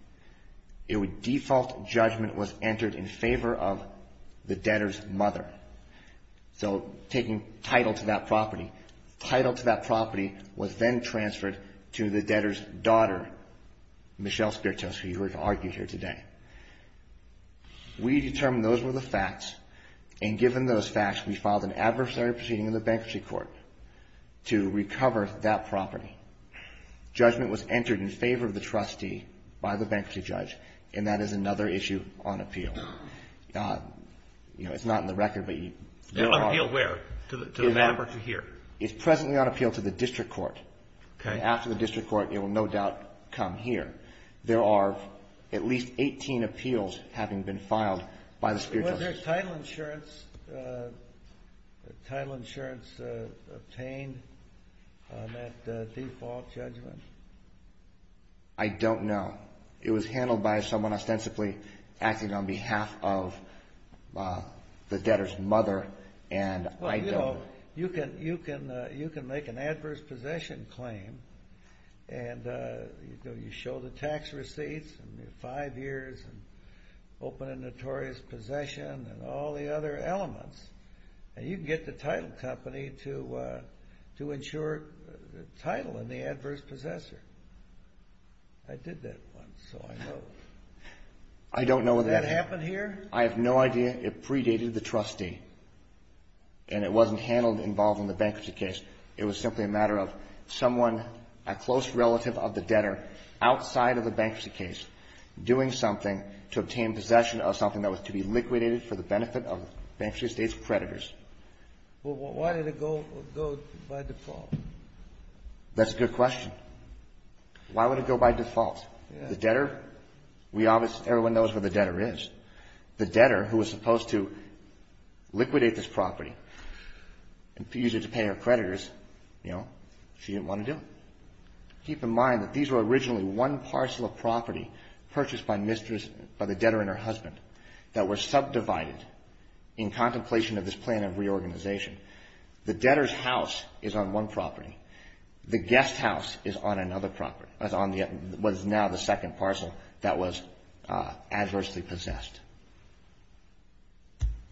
A default judgment was entered in favor of the debtor's mother. So, taking title to that property. Title to that property was then transferred to the debtor's daughter, Michelle Spiritus, who you heard argued here today. We determined those were the facts, and given those facts, we filed an adversary proceeding in the bankruptcy court to recover that property. Judgment was entered in favor of the trustee by the bankruptcy judge, and that is another issue on appeal. You know, it's not in the record, but... On appeal where? To the manor or to here? It's presently on appeal to the district court. Okay. After the district court, it will no doubt come here. There are at least 18 appeals having been filed by the Spiritus. Was there title insurance, title insurance obtained on that default judgment? I don't know. It was handled by someone ostensibly acting on behalf of the debtor's mother. Well, you know, you can make an adverse possession claim, and you show the tax receipts, five years, open a notorious possession, and all the other elements, and you can get the title company to insure title in the adverse possessor. I did that once, so I know. I don't know whether... Did that happen here? I have no idea. It predated the trustee, and it wasn't handled involved in the bankruptcy case. It was simply a matter of someone, a close relative of the debtor, outside of the bankruptcy case, doing something to obtain possession of something that was to be liquidated for the benefit of the bankruptcy estate's creditors. Well, why did it go by default? That's a good question. Why would it go by default? The debtor, everyone knows where the debtor is. The debtor, who was supposed to liquidate this property, and use it to pay her creditors, you know, she didn't want to do it. Keep in mind that these were originally one parcel of property purchased by the debtor and her husband that were subdivided in contemplation of this plan of reorganization. The debtor's house is on one property. The guest house is on another property, was now the second parcel that was adversely possessed.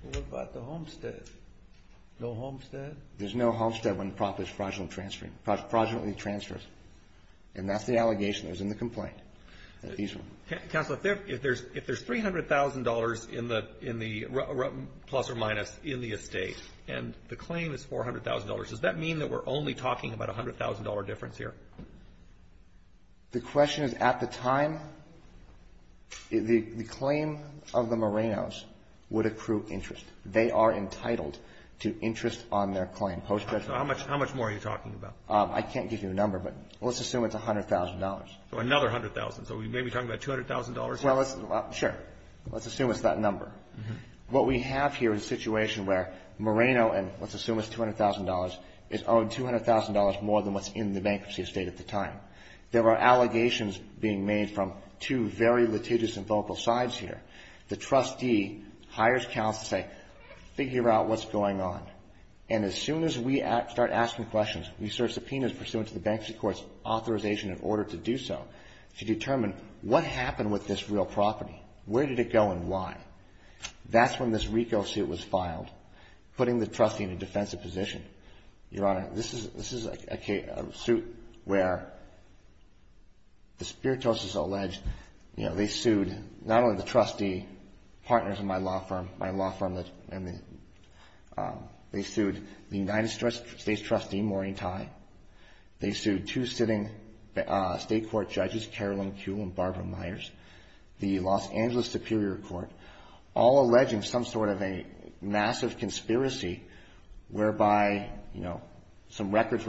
What about the homestead? No homestead? There's no homestead when the property is fraudulently transferred. And that's the allegation that was in the complaint. Counsel, if there's $300,000 plus or minus in the estate, and the claim is $400,000, does that mean that we're only talking about a $100,000 difference here? The question is, at the time, the claim of the Morenos would accrue interest. They are entitled to interest on their claim. So how much more are you talking about? I can't give you a number, but let's assume it's $100,000. So another $100,000. So we may be talking about $200,000? Well, sure. Let's assume it's that number. What we have here is a situation where Moreno, and let's assume it's $200,000, is owed $200,000 more than what's in the bankruptcy estate at the time. There are allegations being made from two very litigious and vocal sides here. The trustee hires counsel to say, figure out what's going on. And as soon as we start asking questions, we serve subpoenas pursuant to the bankruptcy court's authorization in order to do so. To determine, what happened with this real property? Where did it go and why? That's when this RICO suit was filed. Putting the trustee in a defensive position. Your Honor, this is a suit where the Spiritos has alleged, they sued not only the trustee, partners in my law firm, they sued the United States trustee, Maureen Tai, they sued two sitting state court judges, Carolyn Kew and Barbara Myers, the Los Angeles Superior Court, all alleging some sort of a massive conspiracy whereby some records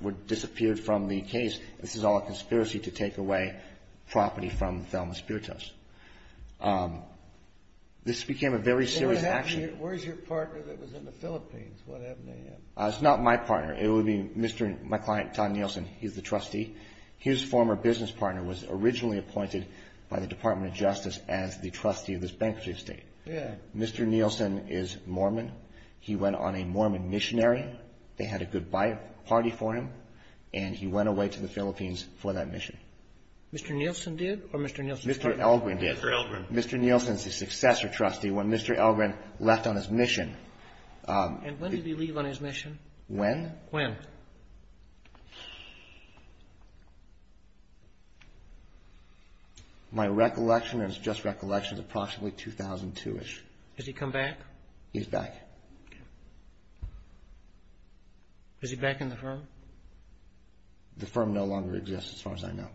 would disappear from the case. This is all a conspiracy to take away property from Thelma Spiritos. This became a very serious action. Where's your partner that was in the Philippines? It's not my partner. It would be my client, Tom Nielsen. He's the trustee. His former business partner was originally appointed by the Department of Justice as the trustee of this bankruptcy estate. Mr. Nielsen is Mormon. He went on a Mormon missionary. They had a goodbye party for him and he went away to the Philippines for that mission. Mr. Nielsen did or Mr. Nielsen's partner? Mr. Nielsen's a successor trustee. When Mr. Nielsen left on his mission... My recollection, and it's just recollection, is approximately 2002-ish. Has he come back? He's back. Is he back in the firm? The firm no longer exists, as far as I know.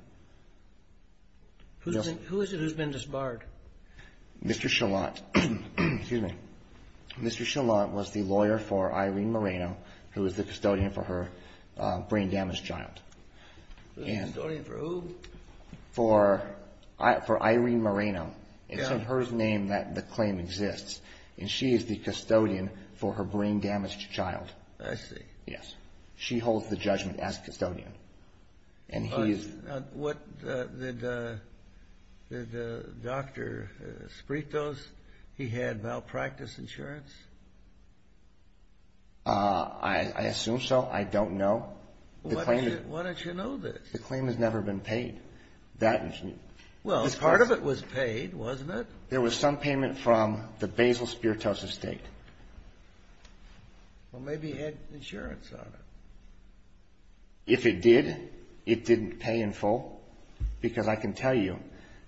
Who is it who's been disbarred? Mr. Chalant. Excuse me. Mr. Chalant was the lawyer for Irene Moreno, who is the custodian for her brain-damaged child. The custodian for who? For Irene Moreno. It's in her name that the claim exists. She is the custodian for her brain-damaged child. I see. She holds the judgment as custodian. Did Dr. Spritos, he had malpractice insurance? I assume so. I don't know. Why don't you know this? The claim has never been paid. Part of it was paid, wasn't it? There was some payment from the Basil Spritos estate. Well, maybe he had insurance on it. If it did, it didn't pay in full, because I can tell you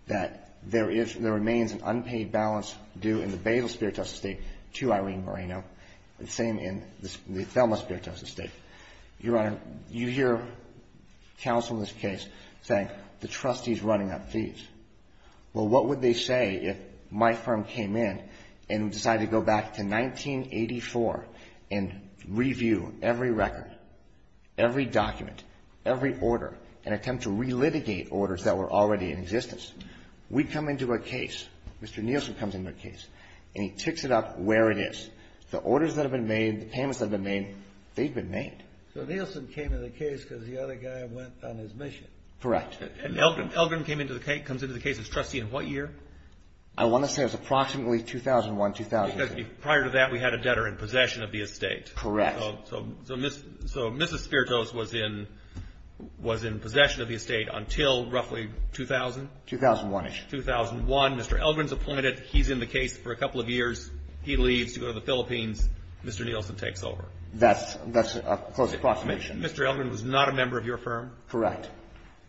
that there remains an unpaid balance due in the Basil Spritos estate to Irene Moreno. The same in the Thelma Spritos estate. Your Honor, you hear counsel in this case saying the trustee is running up fees. Well, what would they say if my firm came in and decided to go back to 1984 and review every record, every document, every order, and attempt to relitigate orders that were already in existence? We come into a case, Mr. Nielsen comes into a case, and he ticks it up where it is. The orders that have been made, the payments that have been made, they've been made. So Nielsen came into the case because the other guy went on his mission. Correct. And Elgin comes into the case as trustee in what year? I want to say it was approximately 2001, 2002. Because prior to that we had a debtor in possession of the estate. Correct. So Mrs. Spritos was in possession of the estate until roughly 2000? 2001-ish. 2001. Mr. Elgin's appointed. He's in the case for a couple of years. He leaves to go to the Philippines. Mr. Nielsen takes over. That's a close approximation. Mr. Elgin was not a member of your firm? Correct.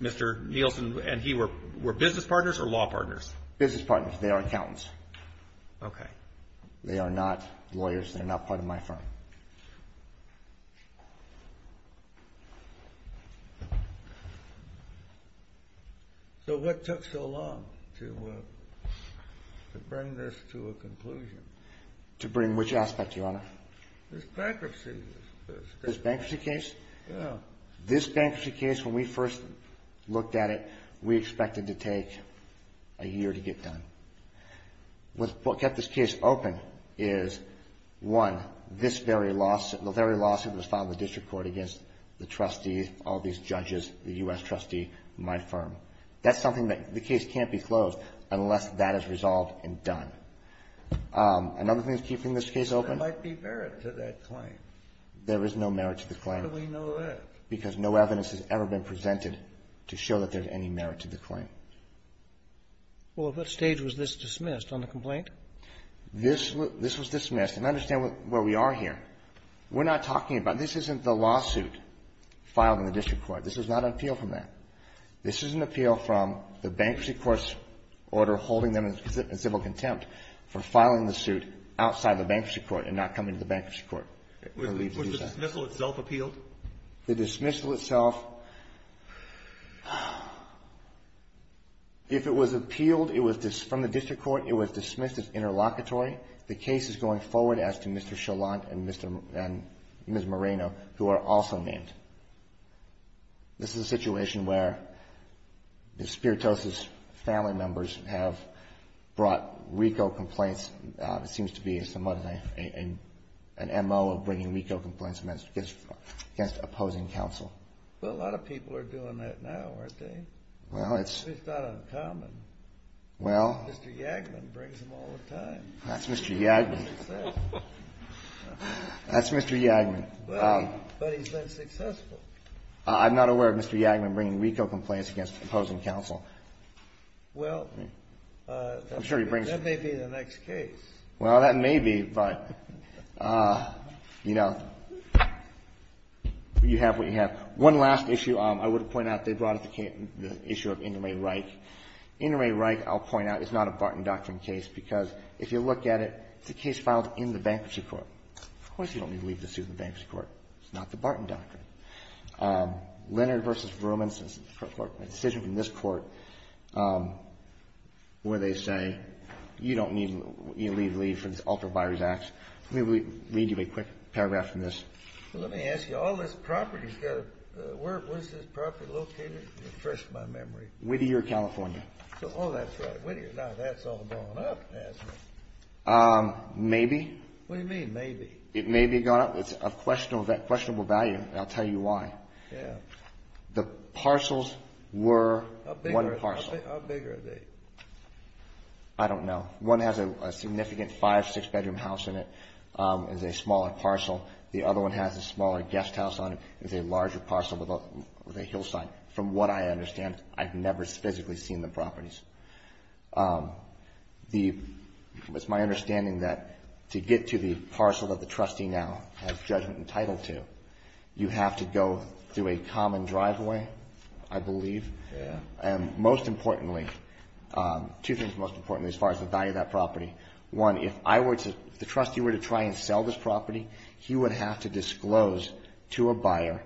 Mr. Nielsen and he were business partners or law partners? Business partners. They are accountants. They are not lawyers. They are not part of my firm. So what took so long to bring this to a conclusion? To bring which aspect, Your Honor? This bankruptcy case. This bankruptcy case, when we first looked at it, we expected to take a year to get done. What kept this case open is, one, this very lawsuit. The very lawsuit that was filed in the district court against the trustees, all these judges, the U.S. trustee, my firm. That's something that the case can't be closed unless that is resolved and done. Another thing that's keeping this case open... There might be merit to that claim. There is no merit to the claim. How do we know that? Because no evidence has ever been presented to show that there's any merit to the claim. Well, at what stage was this dismissed on the complaint? This was dismissed. And understand where we are here. We're not talking about... This isn't the lawsuit filed in the district court. This is not an appeal from that. This is an appeal from the bankruptcy court's order holding them in civil contempt for filing the suit outside the bankruptcy court and not coming to the bankruptcy court. Was the dismissal itself appealed? The dismissal itself... If it was appealed from the district court, it was dismissed as interlocutory. The case is going forward as to Mr. Chalant and Ms. Moreno, who are also named. This is a situation where the Spiritosis family members have brought RICO complaints. It seems to be somewhat an M.O. bringing RICO complaints against opposing counsel. Well, a lot of people are doing that now, aren't they? It's not uncommon. Mr. Yagman brings them all the time. That's Mr. Yagman. But he's been successful. I'm not aware of Mr. Yagman bringing RICO complaints against opposing counsel. That may be the next case. Well, that may be, but... You know, you have what you have. One last issue I would point out. They brought up the issue of Indermay-Reich. Indermay-Reich, I'll point out, is not a Barton Doctrine case because if you look at it, it's a case filed in the bankruptcy court. Of course you don't need to leave the suit in the bankruptcy court. It's not the Barton Doctrine. Leonard v. Verumens is a decision from this Court where they say, you don't need to leave for this ultra-buyers act. Let me read you a quick paragraph from this. Let me ask you, all this property, where is this property located? Whittier, California. Now that's all gone up, is it? Maybe. It's a questionable value, and I'll tell you why. The parcels were one parcel. How big are they? I don't know. One has a significant five, six bedroom house in it. It's a smaller parcel. The other one has a smaller guest house on it. It's a larger parcel with a hillside. From what I understand, I've never physically seen the properties. It's my understanding that to get to the parcel that the trustee now has judgment and title to, you have to go through a common driveway, I believe. Most importantly, two things most importantly as far as the value of that property. One, if the trustee were to try and sell this property, he would have to disclose to a buyer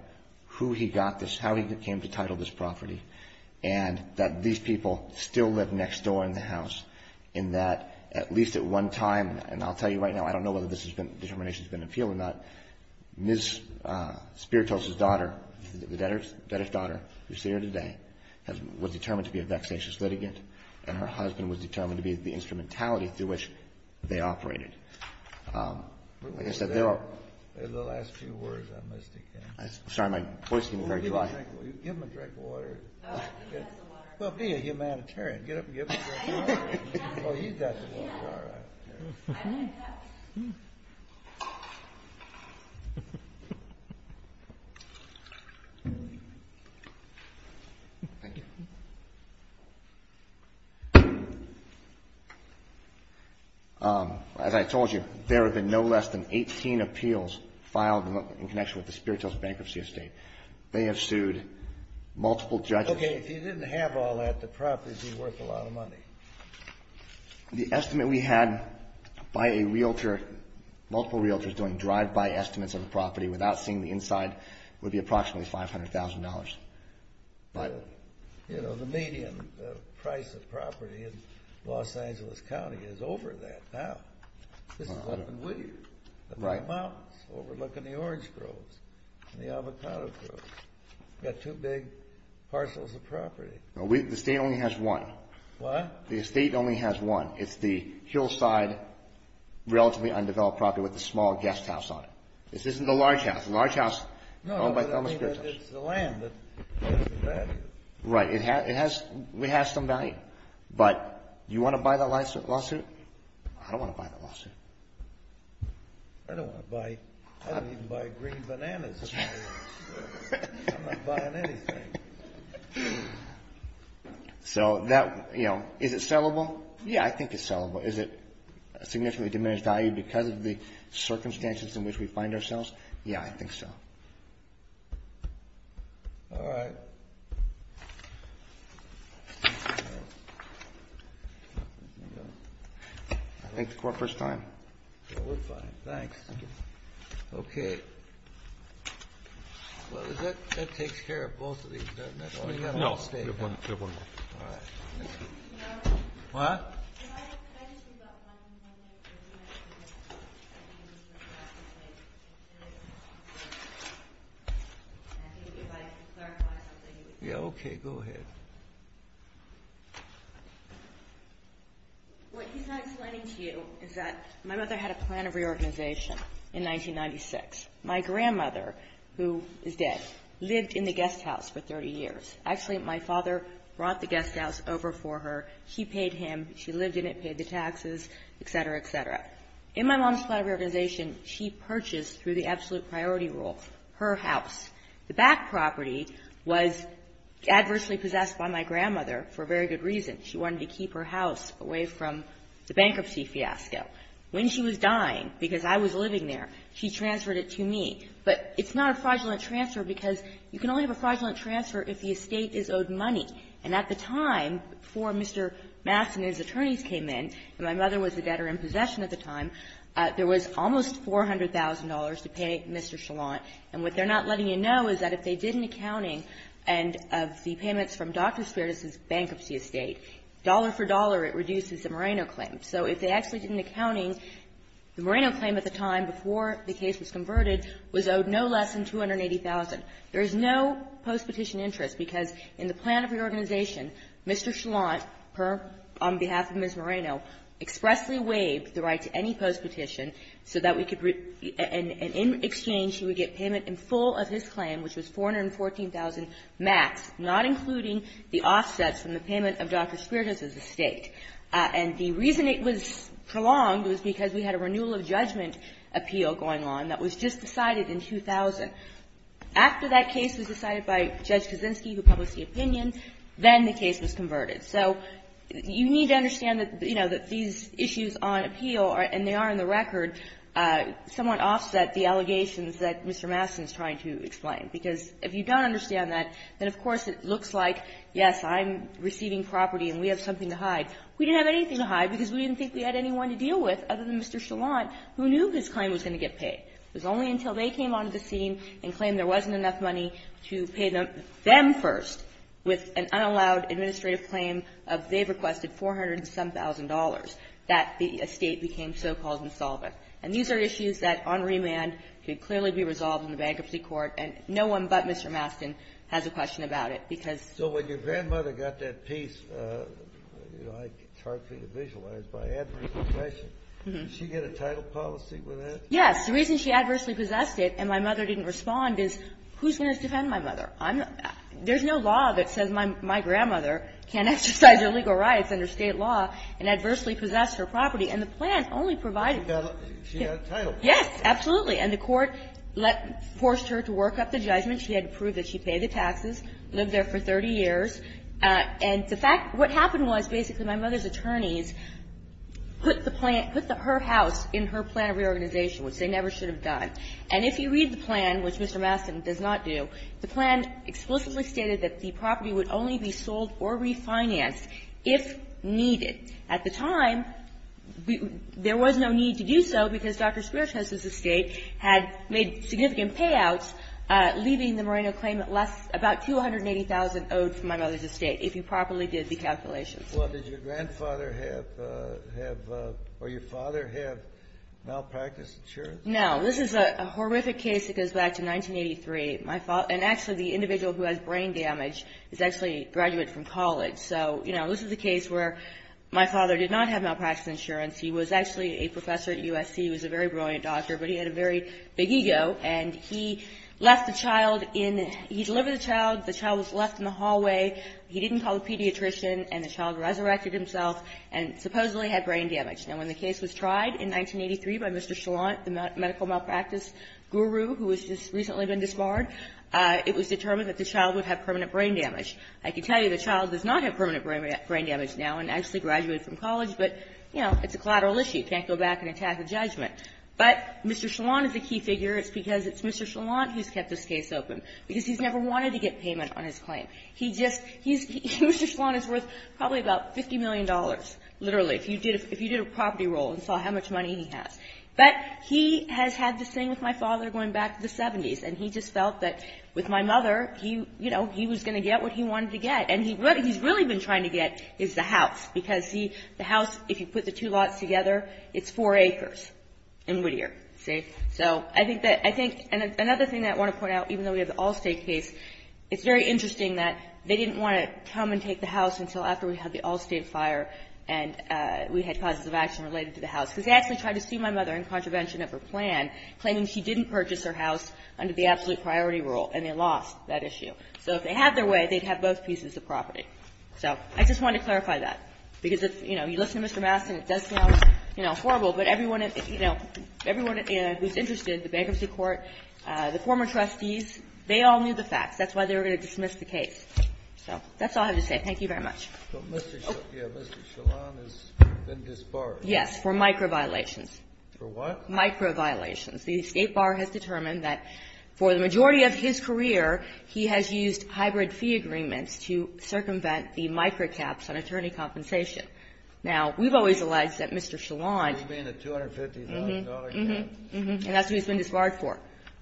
how he came to title this property and that these people still live next door in the house in that at least at one time, and I'll tell you right now, I don't know whether this determination has been appealed or not, Ms. Spiritos' daughter, the debtor's daughter who's here today, was determined to be a vexatious litigant and her husband was determined to be the instrumentality through which they operated. Like I said, there are... There's the last few words. Give him a drink of water. Well, be a humanitarian. As I told you, there have been no less than 18 appeals filed in connection with the Spiritos Bankruptcy Estate. They have sued multiple judges. Okay, if you didn't have all that, the property would be worth a lot of money. The estimate we had by a realtor, multiple realtors doing drive-by estimates of the property without seeing the inside would be approximately $500,000. You know, the median price of property This is what happened in Whittier. The mountains overlooking the orange groves and the avocado groves. You've got two big parcels of property. The estate only has one. It's the hillside, relatively undeveloped property with the small guest house on it. This isn't the large house. No, but it's the land that has some value. Right, it has some value. But, do you want to buy the lawsuit? I don't want to buy the lawsuit. I don't even buy green bananas. I'm not buying anything. So, is it sellable? Yeah, I think it's sellable. Is it a significantly diminished value because of the circumstances in which we find ourselves? Yeah, I think so. I think the court first time. We're fine, thanks. Okay. Well, that takes care of both of these. No, we have one more. What? Yeah, okay, go ahead. What he's not explaining to you is that my mother had a plan of reorganization in 1996. My grandmother, who is dead, lived in the guest house for 30 years. Actually, my father brought the guest house over for her. She paid him. She lived in it, paid the taxes, et cetera, et cetera. In my mom's plan of reorganization, she purchased, through the absolute priority rule, her house. The back property was adversely possessed by my grandmother for a very good reason. She wanted to keep her house away from the bankruptcy fiasco. When she was dying, because I was living there, she transferred it to me. But it's not a fraudulent transfer because you can only have a fraudulent transfer if the estate is owed money. And at the time, before Mr. Mass and his attorneys came in, and my mother was a debtor in possession at the time, there was almost $400,000 to pay Mr. Shallant. And what they're not letting you know is that if they did an accounting of the payments from Dr. Spiritus's bankruptcy estate, dollar for dollar it reduces the Moreno claim. So if they actually did an accounting, the Moreno claim at the time, before the case was converted, was owed no less than $280,000. There is no post-petition interest because in the plan of reorganization, Mr. Shallant, on behalf of Ms. Moreno, expressly waived the right to any post-petition so that we could, and in exchange he would get payment in full of his claim, which was $414,000 max, not including the offsets from the payment of Dr. Spiritus's estate. And the reason it was prolonged was because we had a renewal of judgment appeal going on that was just decided in 2000. After that case was decided by Judge Kaczynski, who published the opinion, then the case was converted. So you need to understand that, you know, that these issues on appeal, and they are in the record, somewhat offset the allegations that Mr. Mastin is trying to explain. Because if you don't understand that, then of course it looks like, yes, I'm receiving property and we have something to hide. We didn't have anything to hide because we didn't think we had anyone to deal with other than Mr. Shallant, who knew his claim was going to get paid. It was only until they came onto the scene and claimed there wasn't enough money to pay them, them first, with an unallowed administrative claim of they've requested $407,000 that the estate became so-called insolvent. And these are issues that, on remand, could clearly be resolved in the Bankruptcy Court, and no one but Mr. Mastin has a question about it, because so when your grandmother got that piece, you know, it's hard for you to visualize, by adverse possession. Did she get a title policy with that? And my mother didn't respond. Who's going to defend my mother? There's no law that says my grandmother can't exercise her legal rights under State law and adversely possess her property. And the plan only provided that. She got a title. Yes, absolutely. And the Court forced her to work up the judgment. She had to prove that she paid the taxes, lived there for 30 years. And the fact, what happened was basically my mother's attorneys put the plan, put her house in her plan of reorganization, which they never should have done. And if you read the plan, which Mr. Mastin does not do, the plan explicitly stated that the property would only be sold or refinanced if needed. At the time, there was no need to do so because Dr. Speros's estate had made significant payouts, leaving the Moreno claimant less about 280,000 owed from my mother's estate, if you properly did the calculations. Well, did your grandfather have or your father have malpractice insurance? No. This is a horrific case that goes back to 1983. And actually, the individual who has brain damage is actually a graduate from college. So, you know, this is a case where my father did not have malpractice insurance. He was actually a professor at USC. He was a very brilliant doctor, but he had a very big ego. And he left the child in the – he delivered the child. The child was left in the hallway. He didn't call the pediatrician, and the child resurrected himself and supposedly had brain damage. Now, when the case was tried in 1983 by Mr. Chalant, the medical malpractice guru who has just recently been disbarred, it was determined that the child would have permanent brain damage. I can tell you the child does not have permanent brain damage now and actually graduated from college, but, you know, it's a collateral issue. You can't go back and attack a judgment. But Mr. Chalant is a key figure. It's because it's Mr. Chalant who's kept this case open, because he's never wanted to get payment on his claim. He just – he's – Mr. Chalant is worth probably about $50 million, literally. If you did a property roll and saw how much money he has. But he has had this thing with my father going back to the 70s, and he just felt that with my mother, you know, he was going to get what he wanted to get. And what he's really been trying to get is the house, because, see, the house, if you put the two lots together, it's four acres in Whittier, see? So I think that – I think – and another thing that I want to point out, even though we have the Allstate case, it's very interesting that they didn't want to come and take the house until after we had the Allstate fire and we had causes of action related to the house. Because they actually tried to sue my mother in contravention of her plan, claiming she didn't purchase her house under the absolute priority rule, and they lost that issue. So if they had their way, they'd have both pieces of property. So I just wanted to clarify that. Because, you know, you listen to Mr. Mastin, it does sound, you know, horrible, but everyone – you know, everyone who's interested, the bankruptcy court, the former trustees, they all knew the facts. That's why they were going to dismiss the case. So that's all I have to say. Thank you very much. But Mr. – yeah, Mr. Shallon has been disbarred. Yes, for micro-violations. For what? Micro-violations. The escape bar has determined that for the majority of his career, he has used hybrid fee agreements to circumvent the micro-caps on attorney compensation. Now, we've always alleged that Mr. Shallon – You mean the $250,000 cap? Mm-hmm. And that's who he's been disbarred for.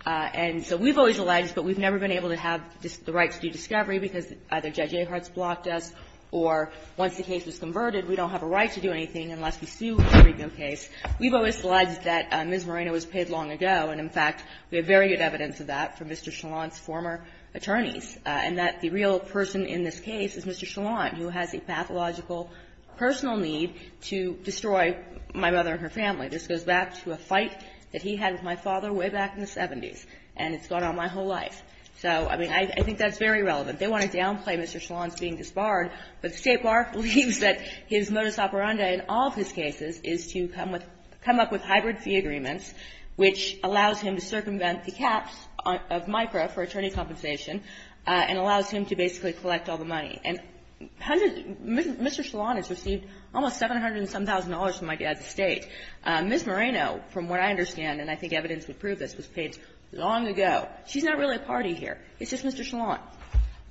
And so we've always alleged, but we've never been able to have the right to do discovery because either Judge Ahart's blocked us or once the case was converted, we don't have a right to do anything unless we sue every new case. We've always alleged that Ms. Moreno was paid long ago, and in fact, we have very good evidence of that from Mr. Shallon's former attorneys, and that the real person in this case is Mr. Shallon, who has a pathological personal need to destroy my mother and her family. This goes back to a fight that he had with my father way back in the 70s, and it's gone on my whole life. So, I mean, I think that's very relevant. They want to downplay Mr. Shallon's being disbarred, but the State Bar believes that his modus operandi in all of his cases is to come up with hybrid fee agreements, which allows him to circumvent the caps of micro for attorney compensation and allows him to basically collect all the money. And Mr. Shallon has received almost $700 and some thousand from my dad's estate. Ms. Moreno, from what I understand, and I think evidence would prove this, was paid long ago. She's not really a party here. It's just Mr. Shallon.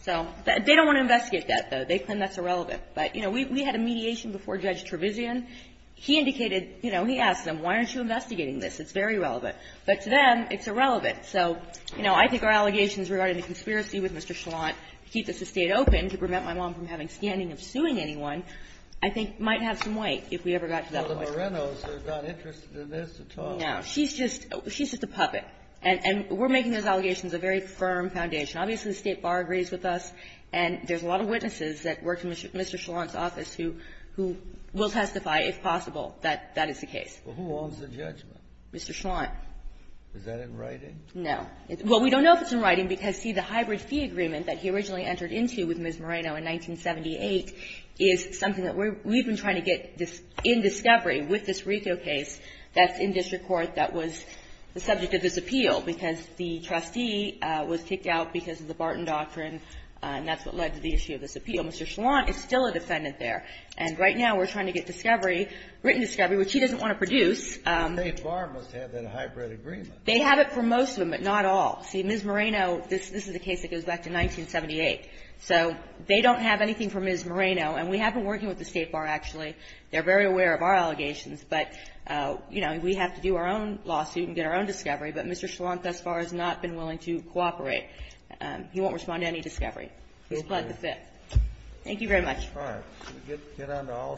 So, they don't want to investigate that, though. They claim that's irrelevant. But, you know, we had a mediation before Judge Trevisan. He indicated, you know, he asked them, why aren't you investigating this? It's very relevant. But to them, it's irrelevant. So, you know, I think our allegations regarding the conspiracy with Mr. Shallon to keep this estate open to prevent my mom from having standing of suing anyone, I think might have some weight if we ever got to that point. But the Morenos are not interested in this at all. No. She's just a puppet. And we're making those allegations a very firm foundation. Obviously, the State Bar agrees with us, and there's a lot of witnesses that work in Mr. Shallon's office who will testify, if possible, that that is the case. Well, who owns the judgment? Mr. Shallon. Is that in writing? No. Well, we don't know if it's in writing because, see, the hybrid fee agreement that he originally entered into with Ms. Moreno in 1978 is something that we've been trying to get in discovery with this Rico case that's in district court that was the subject of this appeal because the trustee was kicked out because of the Barton Doctrine and that's what led to the issue of this appeal. Mr. Shallon is still a defendant there. And right now we're trying to get discovery, written discovery, which he doesn't want to produce. The State Bar must have that hybrid agreement. They have it for most of them, but not all. See, Ms. Moreno, this is a case that goes back to 1978. So they don't have anything for Ms. Moreno. And we have been working with the State Bar, actually. They're very aware of our allegations. But, you know, we have to do our own lawsuit and get our own discovery. But Mr. Shallon thus far has not been willing to cooperate. He won't respond to any discovery. He's pled the fifth. Thank you very much. All right. Get on to all stage. Okay.